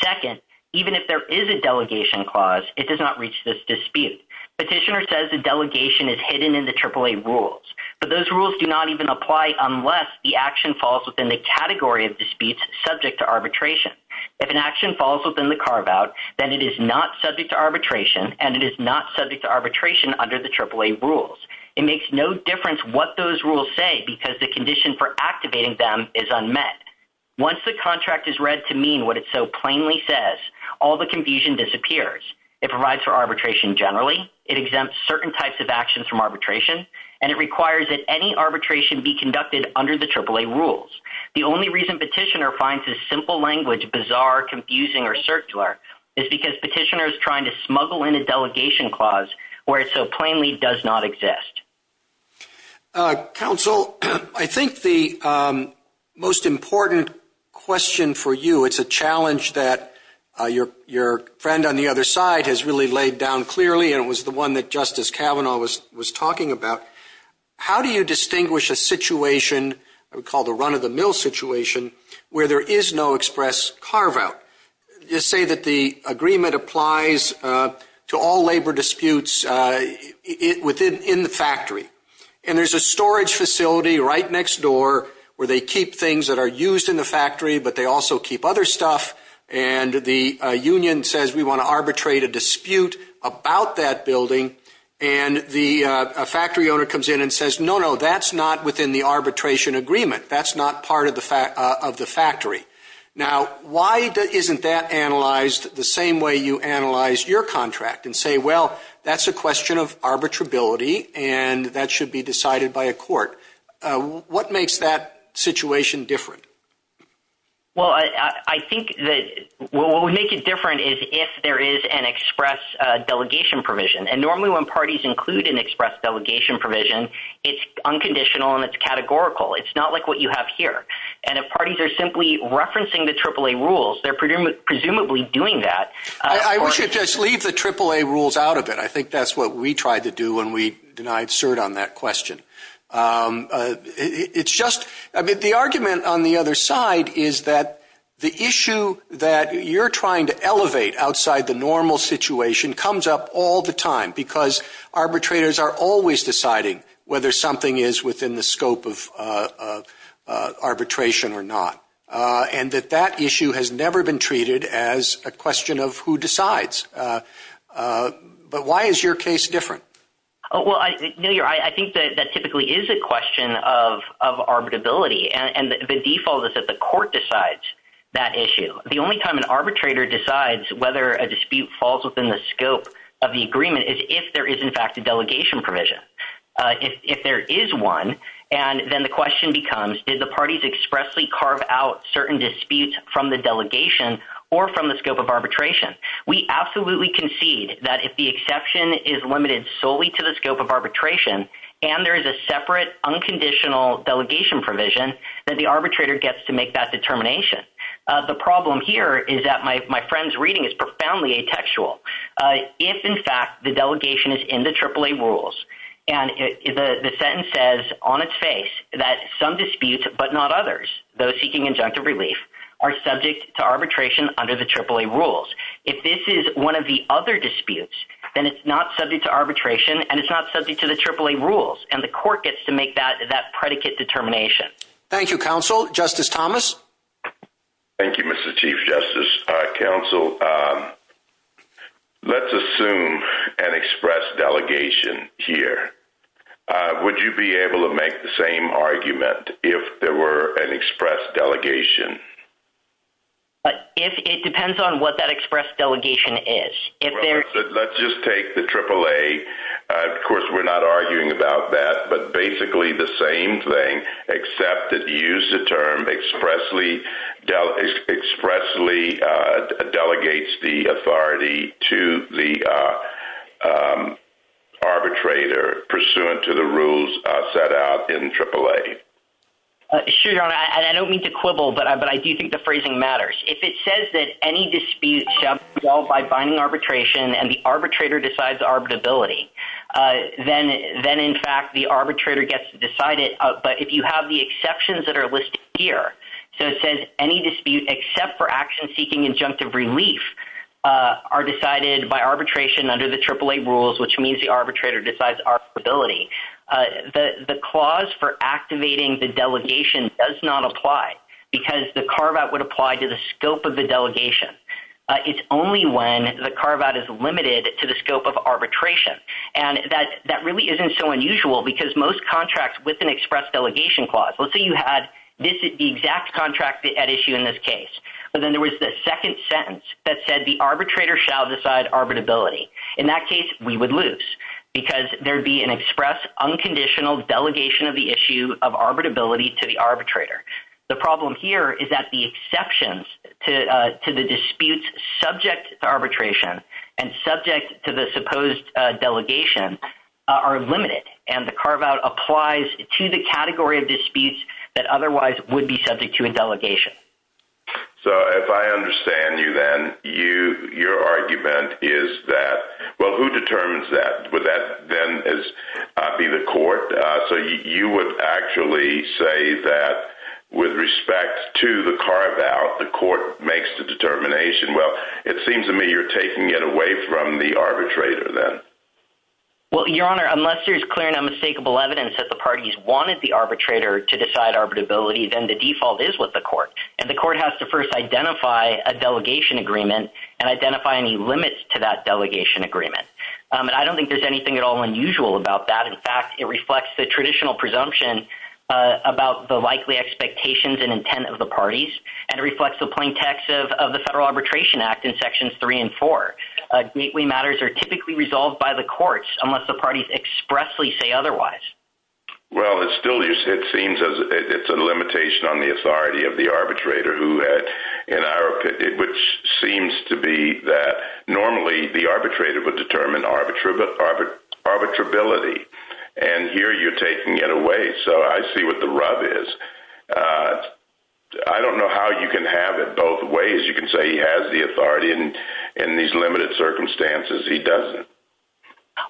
Second, even if there is a delegation clause, it does not reach this dispute. Petitioner says the delegation is hidden in the AAA rules, but those rules do not even apply unless the action falls within the category of disputes subject to arbitration. If an action falls within the carve-out, then it is not subject to arbitration, and it is not subject to arbitration under the AAA rules. It makes no difference what those rules say because the condition for activating them is unmet. Once the contract is read to mean what it so plainly says, all the confusion disappears. It provides for arbitration generally, it exempts certain types of actions from arbitration, and it requires that any arbitration be conducted under the AAA rules. The only reason petitioner finds this simple language bizarre, confusing, or circular is because petitioner is trying to smuggle in a delegation clause where it so plainly does not exist. Counsel, I think the most important question for you is a challenge that your friend on the other side has really laid down clearly, and it was the one that Justice Kavanaugh was talking about. How do you distinguish a situation called a run-of-the-mill situation where there is no express carve-out? I would say that the agreement applies to all labor disputes within the factory. There is a storage facility right next door where they keep things that are used in the factory, but they also keep other stuff, and the union says we want to arbitrate a dispute about that building, and the factory owner comes in and says, no, no, that is not within the arbitration agreement. That is not part of the factory. Now, why isn't that analyzed the same way you analyze your contract and say, well, that is a question of arbitrability, and that should be decided by a court? What makes that situation different? Well, I think that what would make it different is if there is an express delegation provision, and normally when parties include an express delegation provision, it is unconditional and categorical. It is not like what you have here. If parties are simply referencing the AAA rules, they are presumably doing that. I wish you would just leave the AAA rules out of it. I think that is what we tried to do when we denied cert on that question. The argument on the other side is that the issue that you are trying to elevate outside the normal situation comes up all the time because arbitrators are always deciding whether something is within the scope of arbitration or not, and that that issue has never been treated as a question of who decides. But why is your case different? Well, I think that typically is a question of arbitrability, and the default is that the court decides that issue. The only time an arbitrator decides whether a dispute falls within the scope of the agreement is if there is in fact a delegation provision. If there is one, then the question becomes, did the parties expressly carve out certain disputes from the delegation or from the scope of arbitration? We absolutely concede that if the exception is limited solely to the scope of arbitration and there is a separate unconditional delegation provision, that the arbitrator gets to make that determination. The problem here is that my friend's reading is profoundly atextual. If in fact the delegation is in the AAA rules and the sentence says on its face that some disputes but not others, those seeking injunctive relief, are subject to arbitration under the AAA rules, if this is one of the other disputes, then it's not subject to arbitration and it's not subject to the AAA rules, and the court gets to make that predicate determination. Thank you, counsel. Justice Thomas? Thank you, Mr. Chief Justice, counsel. Let's assume an express delegation here. Would you be able to make the same argument if there were an express delegation? It depends on what that express delegation is. Let's just take the AAA. Of course, we're not arguing about that, but basically the same thing, except that you use the term expressly delegates the authority to the arbitrator pursuant to the rules set out in AAA. Sure, and I don't mean to quibble, but I do think the phrasing matters. If it says that any dispute shall be resolved by binding arbitration and the arbitrator decides arbitrability, then in fact the arbitrator gets to decide it, but if you have the exceptions that are listed here, so it says any dispute except for action seeking injunctive relief are decided by arbitration under the AAA rules, which means the arbitrator decides arbitrability, the clause for activating the delegation does not apply because the carve-out would apply to the scope of the delegation. It's only when the carve-out is limited to the scope of arbitration, and that really isn't so unusual because most contracts with an express delegation clause, let's say you had this exact contract at issue in this case, but then there was the second sentence that said the arbitrator shall decide arbitrability. In that case, we would lose because there would be an express unconditional delegation of the issue of arbitrability to the arbitrator. The problem here is that the exceptions to the disputes subject to arbitration and subject to the supposed delegation are limited, and the carve-out applies to the category of disputes that otherwise would be subject to a delegation. So if I understand you then, your argument is that, well, who determines that? Would that then be the court? So you would actually say that with respect to the carve-out, the court makes the determination. Well, it seems to me you're taking it away from the arbitrator then. Well, Your Honor, unless there's clear and unmistakable evidence that the parties wanted the arbitrator to decide arbitrability, then the default is with the court, and the court has to first identify a delegation agreement and identify any limits to that delegation agreement. And I don't think there's anything at all unusual about that. In fact, it reflects the traditional presumption about the likely expectations and intent of the parties, and it reflects the plain text of the Federal Arbitration Act in Sections 3 and 4. Gateway matters are typically resolved by the courts unless the parties expressly say otherwise. Well, it still just seems as if it's a limitation on the authority of the arbitrator, which seems to be that normally the arbitrator would determine arbitrability, and here you're taking it away, so I see what the rub is. I don't know how you can have it both ways. You can say he has the authority in these limited circumstances, he doesn't.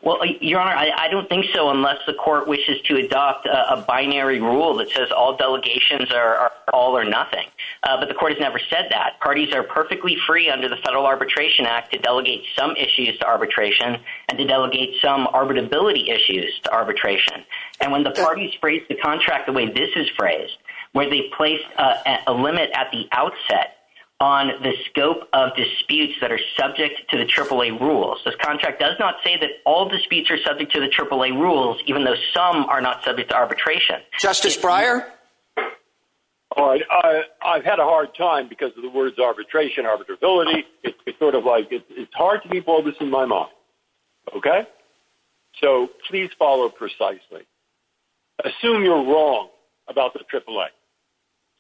Well, Your Honor, I don't think so unless the court wishes to adopt a binary rule that says all delegations are all or nothing. But the court has never said that. Parties are perfectly free under the Federal Arbitration Act to delegate some issues to arbitration and to delegate some arbitrability issues to arbitration. And when the parties phrase the contract the way this is phrased, where they place a limit at the outset on the scope of disputes that are subject to the AAA rules, this contract does not say that all disputes are subject to the AAA rules, even though some are not subject to arbitration. Okay. Justice Breyer? All right. I've had a hard time because of the words arbitration, arbitrability. It's sort of like it's hard to be boldest in my mouth, okay? So please follow precisely. Assume you're wrong about the AAA.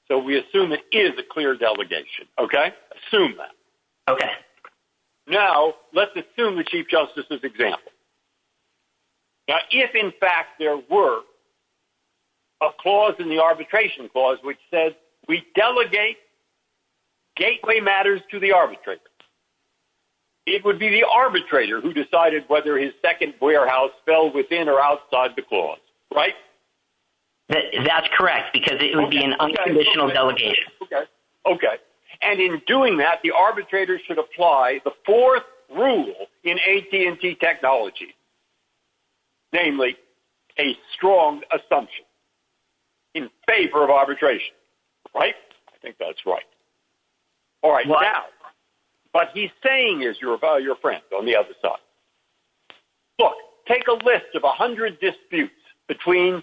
So we assume it is a clear delegation, okay? Assume that. Okay. Now let's assume the Chief Justice's example. Now if, in fact, there were a clause in the arbitration clause which says we delegate gateway matters to the arbitrator, it would be the arbitrator who decided whether his second warehouse fell within or outside the clause, right? That's correct because it would be an unconditional delegation. Okay. Okay. And in doing that, the arbitrator should apply the fourth rule in AT&T technology, namely a strong assumption in favor of arbitration, right? I think that's right. All right. Now, what he's saying is your friend on the other side. Look, take a list of 100 disputes between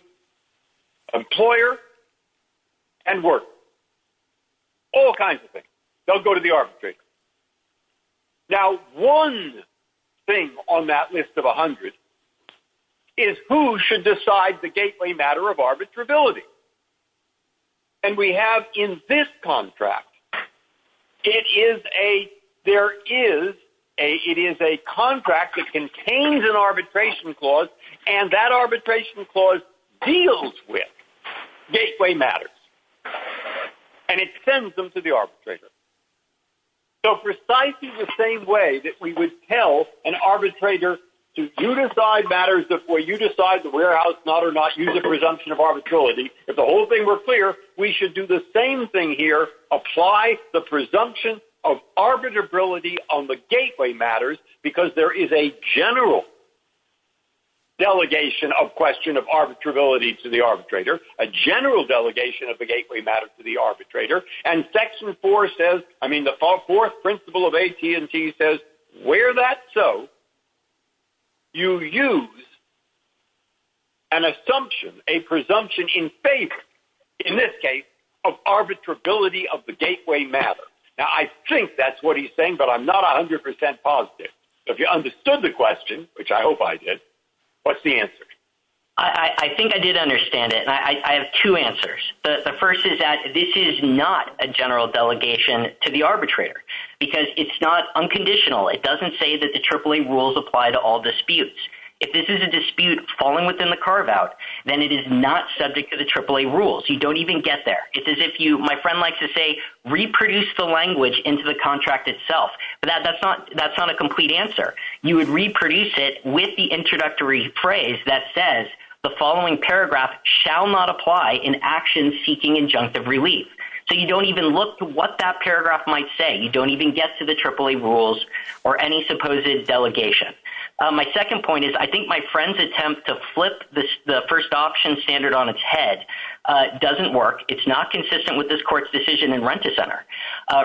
employer and worker, all kinds of things. They'll go to the arbitrator. Now, one thing on that list of 100 is who should decide the gateway matter of arbitrability. And we have in this contract, it is a contract that contains an arbitration clause, and that arbitration clause deals with gateway matters, and it sends them to the arbitrator. So precisely the same way that we would tell an arbitrator, do you decide matters before you decide the warehouse not or not, use a presumption of arbitrality. If the whole thing were clear, we should do the same thing here, apply the presumption of arbitrability on the gateway matters because there is a general delegation of question of arbitrability to the arbitrator, a general delegation of the gateway matter to the arbitrator, and section four says, I mean, the fourth principle of AT&T says, where that's so, you use an assumption, a presumption in favor, in this case, of arbitrability of the gateway matter. Now, I think that's what he's saying, but I'm not 100% positive. If you understood the question, which I hope I did, what's the answer? I think I did understand it, and I have two answers. The first is that this is not a general delegation to the arbitrator because it's not unconditional. It doesn't say that the AAA rules apply to all disputes. If this is a dispute falling within the carve-out, then it is not subject to the AAA rules. You don't even get there. It's as if you, my friend likes to say, reproduce the language into the contract itself, but that's not a complete answer. You would reproduce it with the introductory phrase that says, the following paragraph shall not apply in action seeking injunctive relief. So you don't even look to what that paragraph might say. You don't even get to the AAA rules or any supposed delegation. My second point is I think my friend's attempt to flip the first option standard on its head doesn't work. It's not consistent with this court's decision in Rent-A-Center.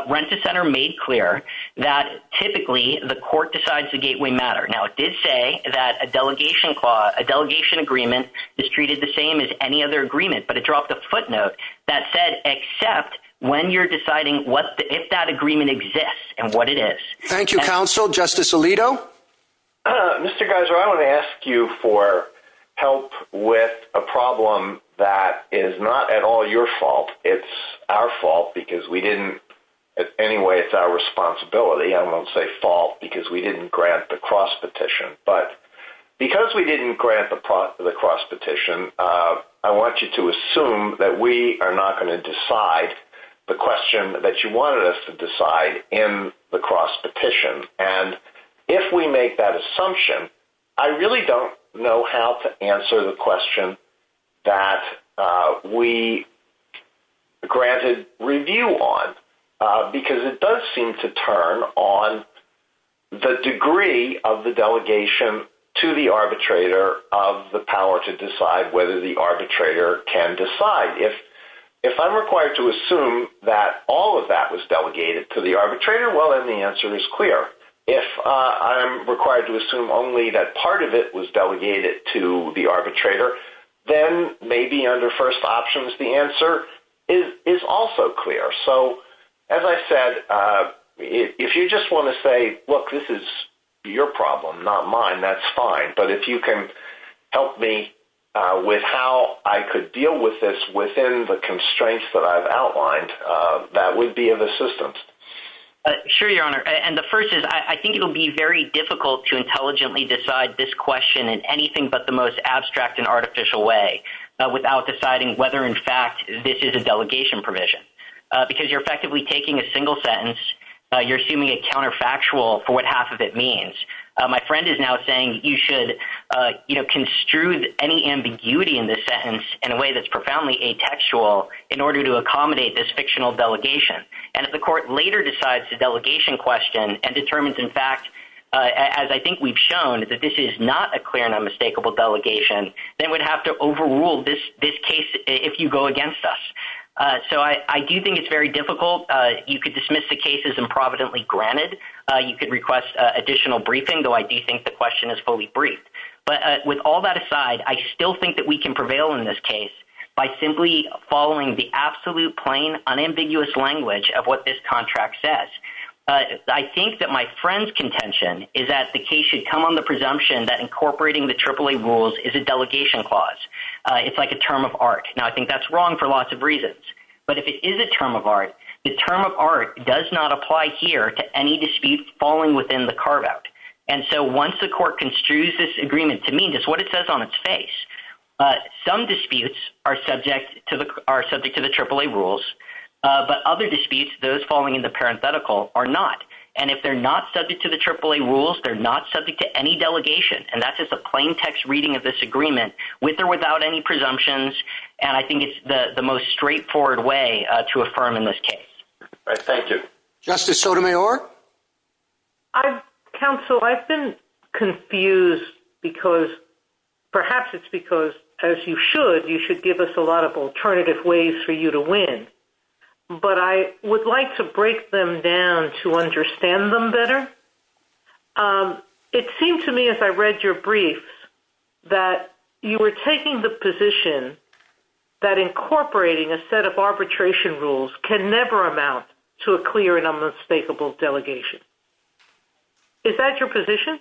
Rent-A-Center made clear that typically the court decides the gateway matter. Now, it did say that a delegation agreement is treated the same as any other agreement, but it dropped a footnote that said except when you're deciding if that agreement exists and what it is. Thank you, counsel. Justice Alito? Mr. Geiser, I want to ask you for help with a problem that is not at all your fault. It's our fault because we didn't – anyway, it's our responsibility. I won't say fault because we didn't grant the cross-petition, but because we didn't grant the cross-petition, I want you to assume that we are not going to decide the question that you wanted us to decide in the cross-petition. And if we make that assumption, I really don't know how to answer the question that we granted review on because it does seem to turn on the degree of the delegation to the arbitrator of the power to decide whether the arbitrator can decide. If I'm required to assume that all of that was delegated to the arbitrator, well, then the answer is clear. If I'm required to assume only that part of it was delegated to the arbitrator, then maybe under first options the answer is also clear. So as I said, if you just want to say, look, this is your problem, not mine, that's fine. But if you can help me with how I could deal with this within the constraints that I've outlined, that would be of assistance. Sure, Your Honor. And the first is I think it would be very difficult to intelligently decide this question in anything but the most abstract and artificial way without deciding whether in fact this is a delegation provision. Because you're effectively taking a single sentence, you're assuming a counterfactual for what half of it means. My friend is now saying you should construe any ambiguity in this sentence in a way that's profoundly atextual in order to accommodate this fictional delegation. And if the court later decides the delegation question and determines in fact, as I think we've shown, that this is not a clear and unmistakable delegation, then we'd have to overrule this case if you go against us. So I do think it's very difficult. You could dismiss the case as improvidently granted. You could request additional briefing, though I do think the question is fully briefed. But with all that aside, I still think that we can prevail in this case by simply following the absolute, plain, unambiguous language of what this contract says. I think that my friend's contention is that the case should come on the presumption that incorporating the AAA rules is a delegation clause. It's like a term of art. Now, I think that's wrong for lots of reasons. But if it is a term of art, the term of art does not apply here to any dispute falling within the carve-out. And so once the court construes this agreement to mean just what it says on its face, some disputes are subject to the AAA rules, but other disputes, those falling in the parenthetical, are not. And if they're not subject to the AAA rules, they're not subject to any delegation. And that's just a plain text reading of this agreement, with or without any presumptions. And I think it's the most straightforward way to affirm in this case. Thank you. Justice Sotomayor? Counsel, I've been confused because perhaps it's because, as you should, you should give us a lot of alternative ways for you to win. But I would like to break them down to understand them better. It seemed to me as I read your briefs that you were taking the position that incorporating a set of arbitration rules can never amount to a clear and unmistakable delegation. Is that your position?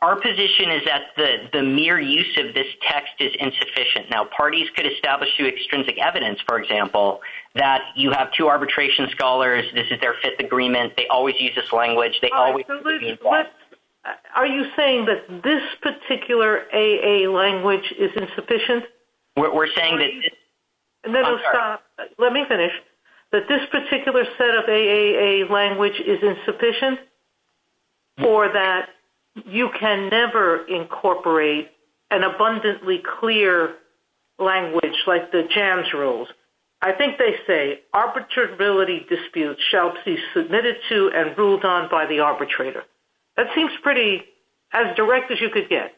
Our position is that the mere use of this text is insufficient. Now, parties could establish through extrinsic evidence, for example, that you have two arbitration scholars. This is their fifth agreement. They always use this language. Are you saying that this particular AAA language is insufficient? We're saying that… Let me finish. That this particular set of AAA language is insufficient, or that you can never incorporate an abundantly clear language like the JAMS rules? I think they say arbitrability disputes shall be submitted to and ruled on by the arbitrator. That seems pretty – as direct as you could get.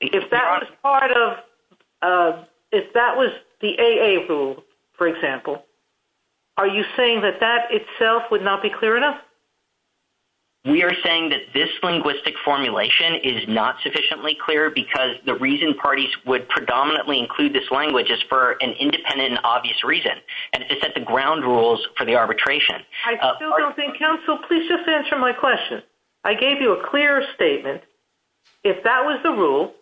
If that was part of – if that was the AA rule, for example, are you saying that that itself would not be clear enough? We are saying that this linguistic formulation is not sufficiently clear because the reason parties would predominantly include this language is for an independent and obvious reason, and it's at the ground rules for the arbitration. I still don't think – counsel, please just answer my question. I gave you a clear statement. If that was the rule,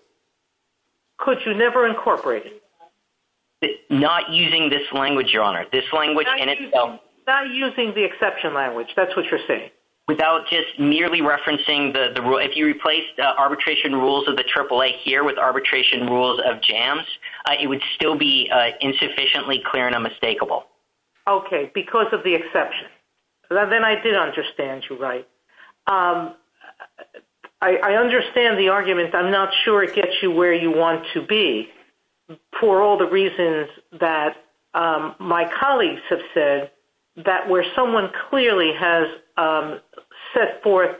could you never incorporate it? Not using this language, Your Honor. Not using the exception language. That's what you're saying. Without just nearly referencing the – if you replaced arbitration rules of the AAA here with arbitration rules of JAMS, it would still be insufficiently clear and unmistakable. Okay, because of the exception. Then I did understand you right. I understand the argument. I'm not sure it gets you where you want to be. For all the reasons that my colleagues have said, that where someone clearly has set forth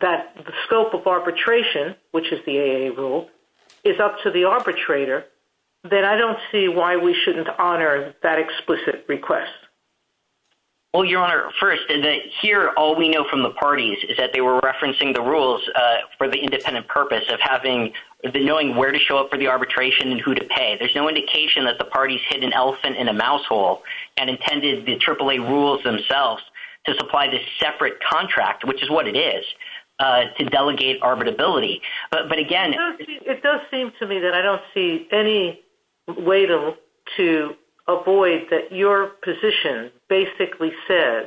that the scope of arbitration, which is the AA rule, is up to the arbitrator, then I don't see why we shouldn't honor that explicit request. Well, Your Honor, first, here all we know from the parties is that they were referencing the rules for the independent purpose of knowing where to show up for the arbitration and who to pay. There's no indication that the parties hid an elephant in a mouse hole and intended the AAA rules themselves to supply this separate contract, which is what it is, to delegate arbitrability. It does seem to me that I don't see any way to avoid that your position basically says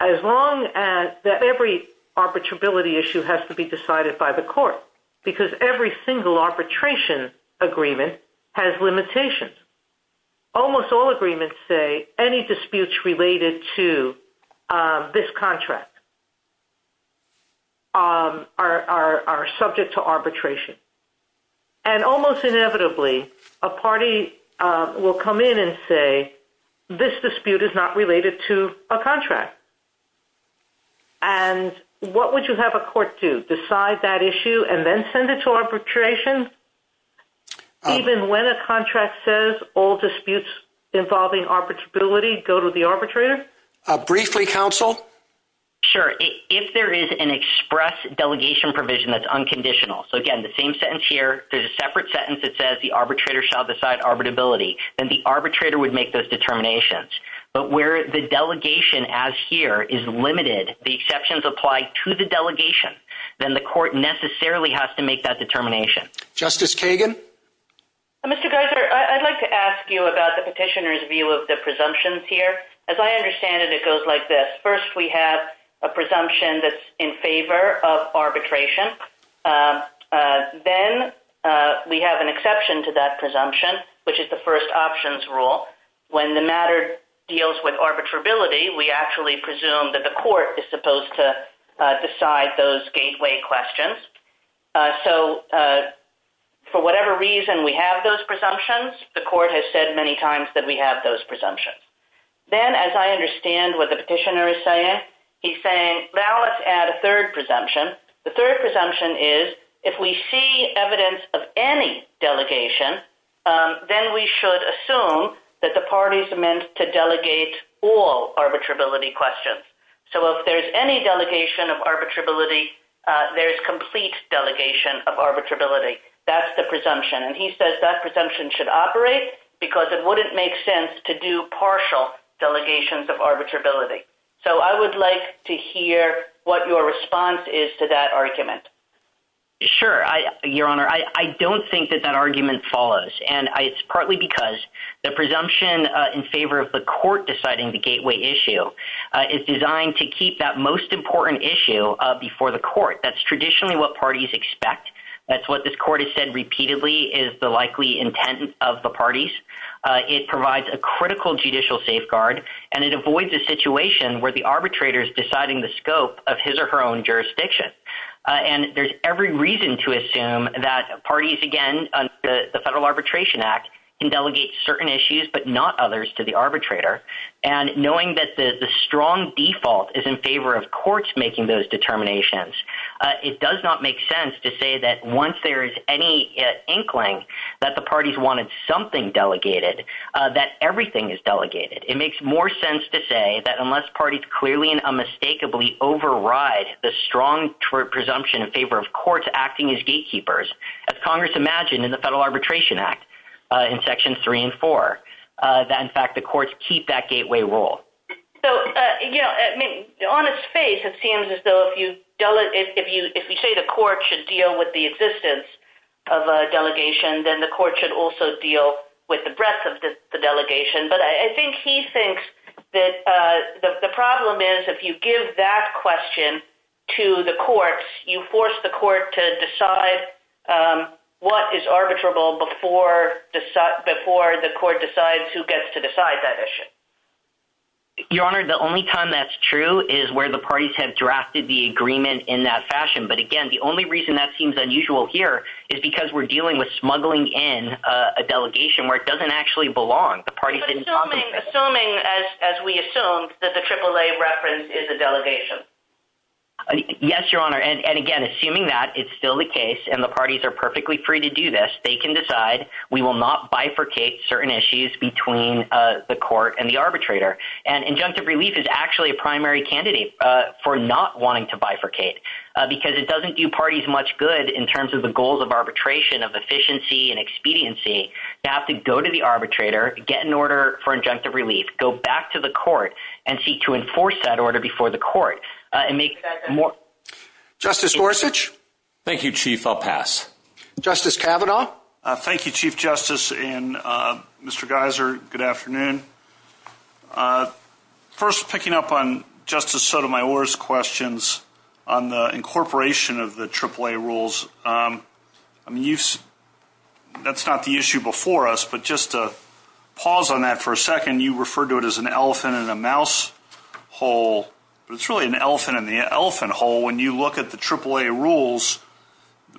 that every arbitrability issue has to be decided by the court because every single arbitration agreement has limitations. Almost all agreements say any disputes related to this contract are subject to arbitration. And almost inevitably, a party will come in and say, this dispute is not related to a contract. And what would you have a court do? Decide that issue and then send it to arbitration? Even when a contract says all disputes involving arbitrability go to the arbitrator? Briefly, counsel? Sure. If there is an express delegation provision that's unconditional, so again, the same sentence here, there's a separate sentence that says the arbitrator shall decide arbitrability, then the arbitrator would make those determinations. But where the delegation as here is limited, the exceptions apply to the delegation, then the court necessarily has to make that determination. Justice Kagan? Mr. Geiser, I'd like to ask you about the petitioner's view of the presumptions here. As I understand it, it goes like this. First, we have a presumption that's in favor of arbitration. Then we have an exception to that presumption, which is the first options rule. When the matter deals with arbitrability, we actually presume that the court is supposed to decide those gateway questions. So for whatever reason we have those presumptions, the court has said many times that we have those presumptions. Then, as I understand what the petitioner is saying, he's saying, well, let's add a third presumption. The third presumption is if we see evidence of any delegation, then we should assume that the parties are meant to delegate all arbitrability questions. So if there's any delegation of arbitrability, there's complete delegation of arbitrability. That's the presumption, and he says that presumption should operate because it wouldn't make sense to do partial delegations of arbitrability. So I would like to hear what your response is to that argument. Sure, Your Honor. I don't think that that argument follows, and it's partly because the presumption in favor of the court deciding the gateway issue is designed to keep that most important issue before the court. That's traditionally what parties expect. That's what this court has said repeatedly is the likely intent of the parties. It provides a critical judicial safeguard, and it avoids a situation where the arbitrator is deciding the scope of his or her own jurisdiction. And there's every reason to assume that parties, again, the Federal Arbitration Act, can delegate certain issues but not others to the arbitrator. And knowing that the strong default is in favor of courts making those determinations, it does not make sense to say that once there is any inkling that the parties wanted something delegated. That everything is delegated. It makes more sense to say that unless parties clearly and unmistakably override the strong presumption in favor of courts acting as gatekeepers, as Congress imagined in the Federal Arbitration Act in sections three and four, that in fact the courts keep that gateway rule. On its face, it seems as though if you say the court should deal with the existence of a delegation, then the court should also deal with the breadth of the delegation. But I think he thinks that the problem is if you give that question to the courts, you force the court to decide what is arbitrable before the court decides who gets to decide that issue. Your Honor, the only time that's true is where the parties have drafted the agreement in that fashion. But again, the only reason that seems unusual here is because we're dealing with smuggling in a delegation where it doesn't actually belong. Assuming, as we assumed, that the AAA reference is a delegation. Yes, Your Honor. And again, assuming that it's still the case and the parties are perfectly free to do this, they can decide we will not bifurcate certain issues between the court and the arbitrator. And injunctive relief is actually a primary candidate for not wanting to bifurcate. Because it doesn't do parties much good in terms of the goals of arbitration of efficiency and expediency to have to go to the arbitrator, get an order for injunctive relief, go back to the court, and seek to enforce that order before the court. Justice Gorsuch? Thank you, Chief. I'll pass. Justice Kavanaugh? Thank you, Chief Justice and Mr. Geiser. Good afternoon. First, picking up on Justice Sotomayor's questions on the incorporation of the AAA rules, that's not the issue before us. But just to pause on that for a second, you referred to it as an elephant in a mouse hole. But it's really an elephant in the elephant hole when you look at the AAA rules.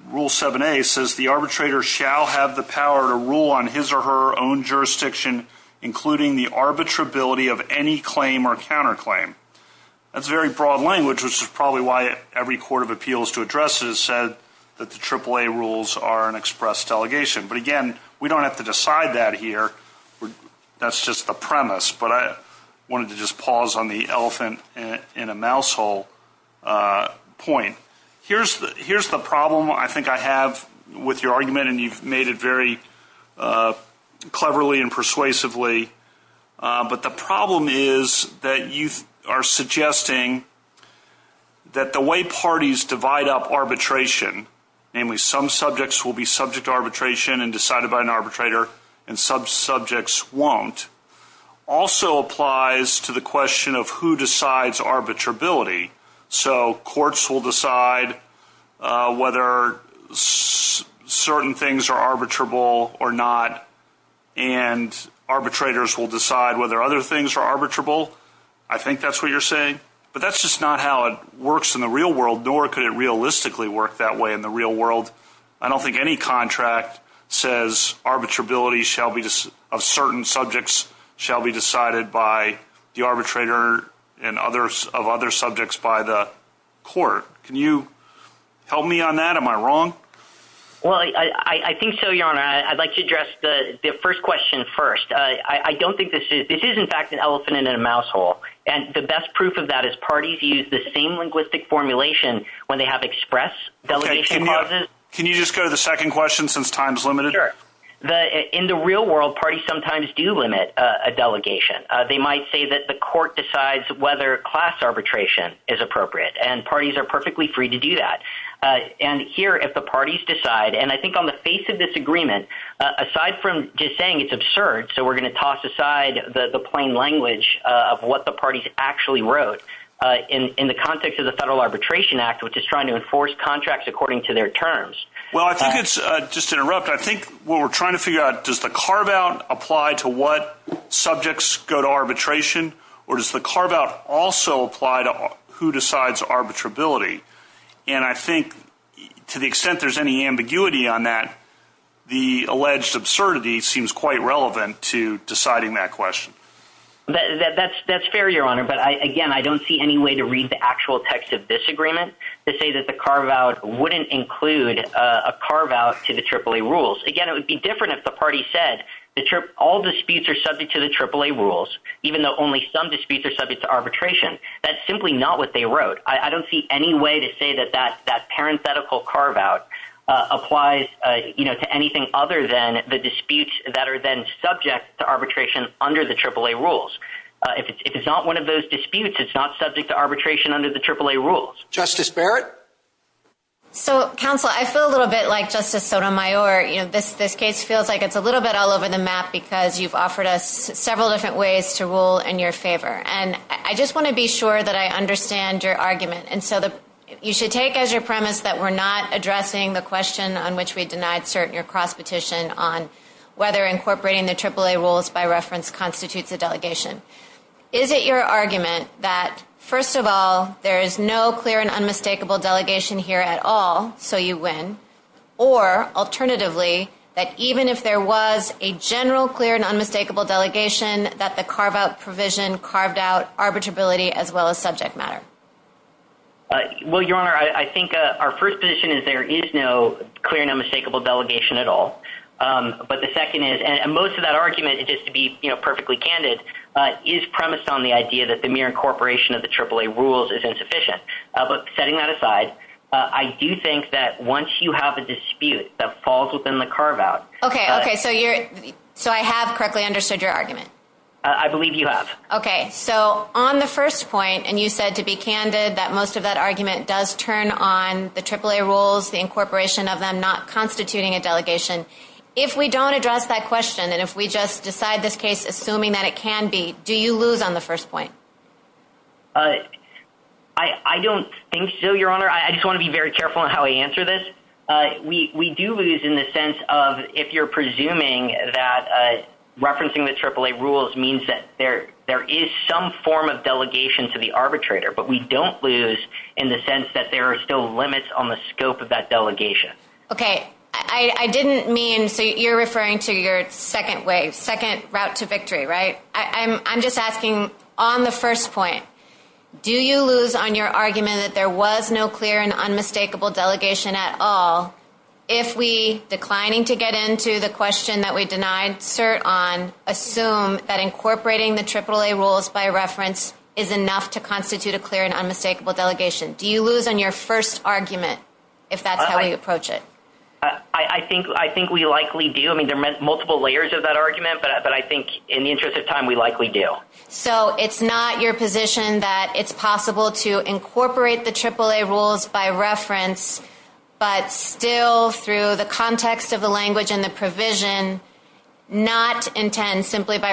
Rule 7a says the arbitrator shall have the power to rule on his or her own jurisdiction, including the arbitrability of any claim or counterclaim. That's very broad language, which is probably why every court of appeals to address this said that the AAA rules are an express delegation. But again, we don't have to decide that here. That's just a premise. But I wanted to just pause on the elephant in a mouse hole point. Here's the problem I think I have with your argument, and you've made it very cleverly and persuasively. But the problem is that you are suggesting that the way parties divide up arbitration, namely some subjects will be subject to arbitration and decided by an arbitrator and some subjects won't, also applies to the question of who decides arbitrability. So courts will decide whether certain things are arbitrable or not, and arbitrators will decide whether other things are arbitrable. I think that's what you're saying, but that's just not how it works in the real world, nor could it realistically work that way in the real world. I don't think any contract says arbitrability of certain subjects shall be decided by the arbitrator and others of other subjects by the court. Can you help me on that? Am I wrong? Well, I think so, Your Honor. I'd like to address the first question first. This is in fact an elephant in a mouse hole, and the best proof of that is parties use the same linguistic formulation when they have express delegation clauses. Can you just go to the second question since time is limited? Sure. In the real world, parties sometimes do limit a delegation. They might say that the court decides whether class arbitration is appropriate, and parties are perfectly free to do that. And here, if the parties decide – and I think on the face of this agreement, aside from just saying it's absurd, so we're going to toss aside the plain language of what the parties actually wrote in the context of the Federal Arbitration Act, which is trying to enforce contracts according to their terms. Well, I think it's – just to interrupt, I think what we're trying to figure out, does the carve-out apply to what subjects go to arbitration, or does the carve-out also apply to who decides arbitrability? And I think to the extent there's any ambiguity on that, the alleged absurdity seems quite relevant to deciding that question. That's fair, Your Honor, but again, I don't see any way to read the actual text of this agreement to say that the carve-out wouldn't include a carve-out to the AAA rules. Again, it would be different if the party said all disputes are subject to the AAA rules, even though only some disputes are subject to arbitration. That's simply not what they wrote. I don't see any way to say that that parenthetical carve-out applies to anything other than the disputes that are then subject to arbitration under the AAA rules. If it's not one of those disputes, it's not subject to arbitration under the AAA rules. Justice Barrett? So, counsel, I feel a little bit like Justice Sotomayor. This case feels like it's a little bit all over the map because you've offered us several different ways to rule in your favor. And I just want to be sure that I understand your argument. And so you should take as your premise that we're not addressing the question on which we denied cert in your cross-petition on whether incorporating the AAA rules by reference constitutes a delegation. Is it your argument that, first of all, there is no clear and unmistakable delegation here at all, so you win, or, alternatively, that even if there was a general clear and unmistakable delegation, that the carve-out provision carved out arbitrability as well as subject matter? Well, Your Honor, I think our first position is there is no clear and unmistakable delegation at all. But the second is, and most of that argument, just to be perfectly candid, is premised on the idea that the mere incorporation of the AAA rules is insufficient. But setting that aside, I do think that once you have a dispute that falls within the carve-out... Okay, okay, so I have correctly understood your argument. I believe you have. Okay, so on the first point, and you said to be candid that most of that argument does turn on the AAA rules, the incorporation of them not constituting a delegation. If we don't address that question, and if we just decide this case assuming that it can be, do you lose on the first point? I don't think so, Your Honor. I just want to be very careful in how I answer this. We do lose in the sense of if you're presuming that referencing the AAA rules means that there is some form of delegation to the arbitrator, but we don't lose in the sense that there are still limits on the scope of that delegation. Okay, I didn't mean, so you're referring to your second way, second route to victory, right? I'm just asking on the first point, do you lose on your argument that there was no clear and unmistakable delegation at all if we, declining to get into the question that we denied cert on, assume that incorporating the AAA rules by reference is enough to constitute a clear and unmistakable delegation? Do you lose on your first argument if that's how you approach it? I think we likely do. I'm assuming there are multiple layers of that argument, but I think in the interest of time, we likely do. So it's not your position that it's possible to incorporate the AAA rules by reference, but still through the context of the language and the provision, not intend simply by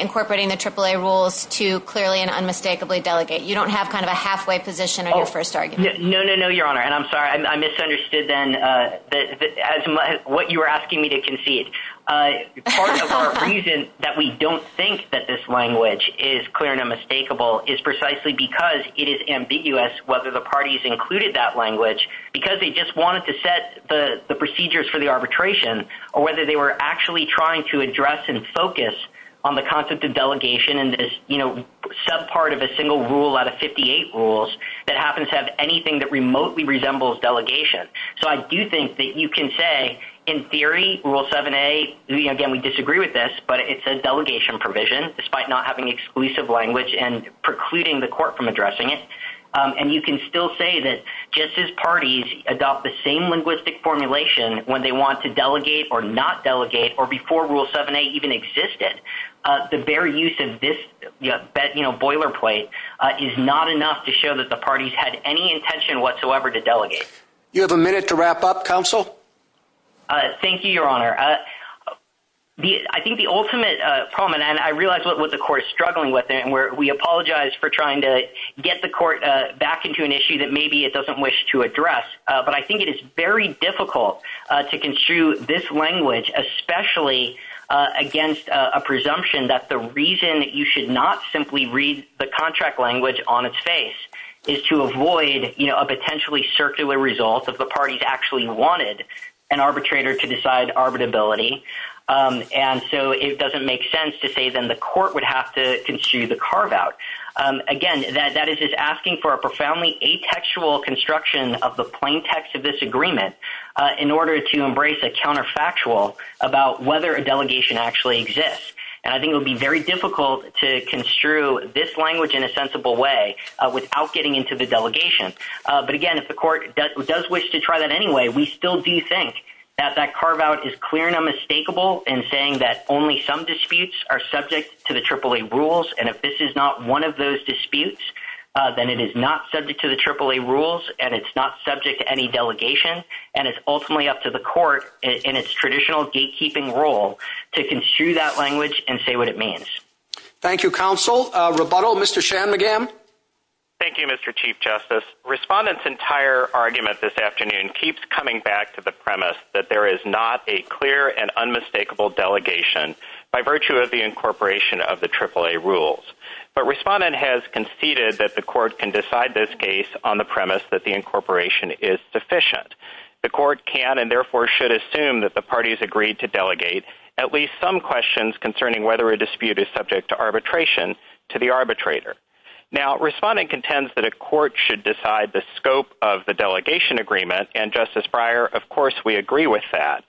incorporating the AAA rules to clearly and unmistakably delegate. You don't have kind of a halfway position on your first argument. No, no, no, Your Honor, and I'm sorry, I misunderstood then what you were asking me to concede. Part of our reason that we don't think that this language is clear and unmistakable is precisely because it is ambiguous whether the parties included that language, because they just wanted to set the procedures for the arbitration, or whether they were actually trying to address and focus on the concept of delegation, and this subpart of a single rule out of 58 rules that happens to have anything that remotely resembles delegation. So I do think that you can say, in theory, Rule 7a, again, we disagree with this, but it's a delegation provision despite not having exclusive language and precluding the court from addressing it, and you can still say that just as parties adopt the same linguistic formulation when they want to delegate or not delegate or before Rule 7a even existed, the very use of this boilerplate is not enough to show that the parties had any intention whatsoever to delegate. Do you have a minute to wrap up, counsel? Thank you, Your Honor. I think the ultimate problem, and I realize what the court is struggling with, and we apologize for trying to get the court back into an issue that maybe it doesn't wish to address, but I think it is very difficult to construe this language, especially against a presumption that the reason you should not simply read the contract language on its face is to avoid a potentially circular result if the parties actually wanted an arbitrator to decide arbitrability, and so it doesn't make sense to say then the court would have to construe the carve-out. Again, that is just asking for a profoundly atextual construction of the plain text of this agreement in order to embrace a counterfactual about whether a delegation actually exists, and I think it would be very difficult to construe this language in a sensible way without getting into the delegation, but again, if the court does wish to try that anyway, we still do think that that carve-out is clear and unmistakable in saying that only some disputes are subject to the AAA rules, and if this is not one of those disputes, then it is not subject to the AAA rules, and it's not subject to any delegation, and it's ultimately up to the court in its traditional gatekeeping role to construe that language and say what it means. Thank you, counsel. Rebuttal, Mr. Shanmugam? Thank you, Mr. Chief Justice. Respondent's entire argument this afternoon keeps coming back to the premise that there is not a clear and unmistakable delegation by virtue of the incorporation of the AAA rules, but Respondent has conceded that the court can decide this case on the premise that the incorporation is sufficient. The court can and therefore should assume that the parties agreed to delegate at least some questions concerning whether a dispute is subject to arbitration to the arbitrator. Now, Respondent contends that a court should decide the scope of the delegation agreement, and Justice Breyer, of course, we agree with that.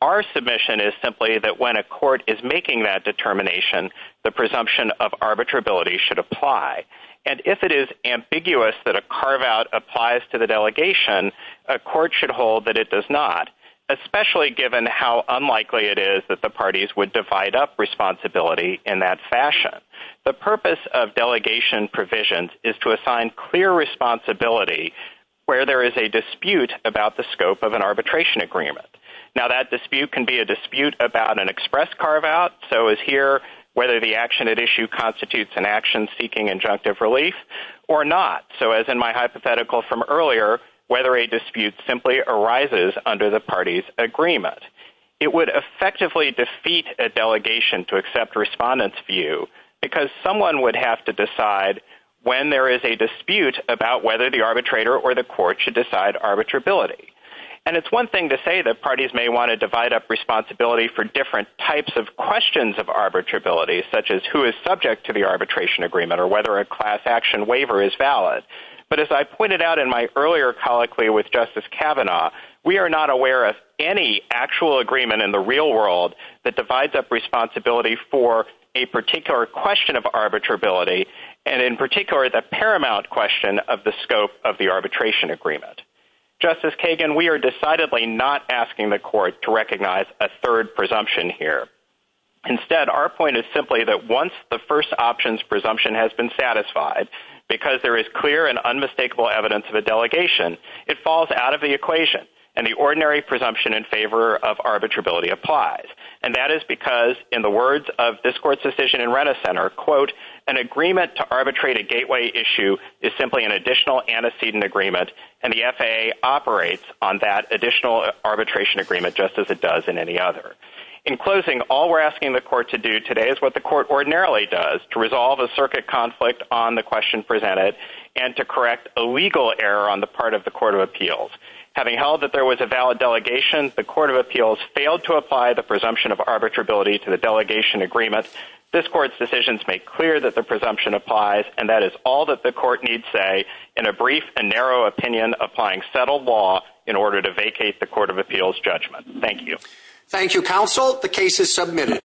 Our submission is simply that when a court is making that determination, the presumption of arbitrability should apply, and if it is ambiguous that a carve-out applies to the delegation, a court should hold that it does not, especially given how unlikely it is that the parties would divide up responsibility in that fashion. The purpose of delegation provisions is to assign clear responsibility where there is a dispute about the scope of an arbitration agreement. Now, that dispute can be a dispute about an express carve-out, so as here, whether the action at issue constitutes an action seeking injunctive relief or not, so as in my hypothetical from earlier, whether a dispute simply arises under the parties' agreement. It would effectively defeat a delegation to accept Respondent's view, because someone would have to decide when there is a dispute about whether the arbitrator or the court should decide arbitrability. And it's one thing to say that parties may want to divide up responsibility for different types of questions of arbitrability, such as who is subject to the arbitration agreement or whether a class action waiver is valid, but as I pointed out in my earlier colloquy with Justice Kavanaugh, we are not aware of any actual agreement in the real world that divides up responsibility for a particular question of arbitrability, and in particular, the paramount question of the scope of the arbitration agreement. Justice Kagan, we are decidedly not asking the court to recognize a third presumption here. Instead, our point is simply that once the first option's presumption has been satisfied, because there is clear and unmistakable evidence of a delegation, it falls out of the equation, and the ordinary presumption in favor of arbitrability applies. And that is because, in the words of this court's decision in Renner Center, quote, an agreement to arbitrate a gateway issue is simply an additional antecedent agreement, and the FAA operates on that additional arbitration agreement just as it does in any other. In closing, all we're asking the court to do today is what the court ordinarily does, to resolve a circuit conflict on the question presented and to correct a legal error on the part of the Court of Appeals. Having held that there was a valid delegation, the Court of Appeals failed to apply the presumption of arbitrability to the delegation agreement. This court's decisions make clear that the presumption applies, and that is all that the court needs say in a brief and narrow opinion applying settled law in order to vacate the Court of Appeals judgment. Thank you. Thank you, counsel. The case is submitted.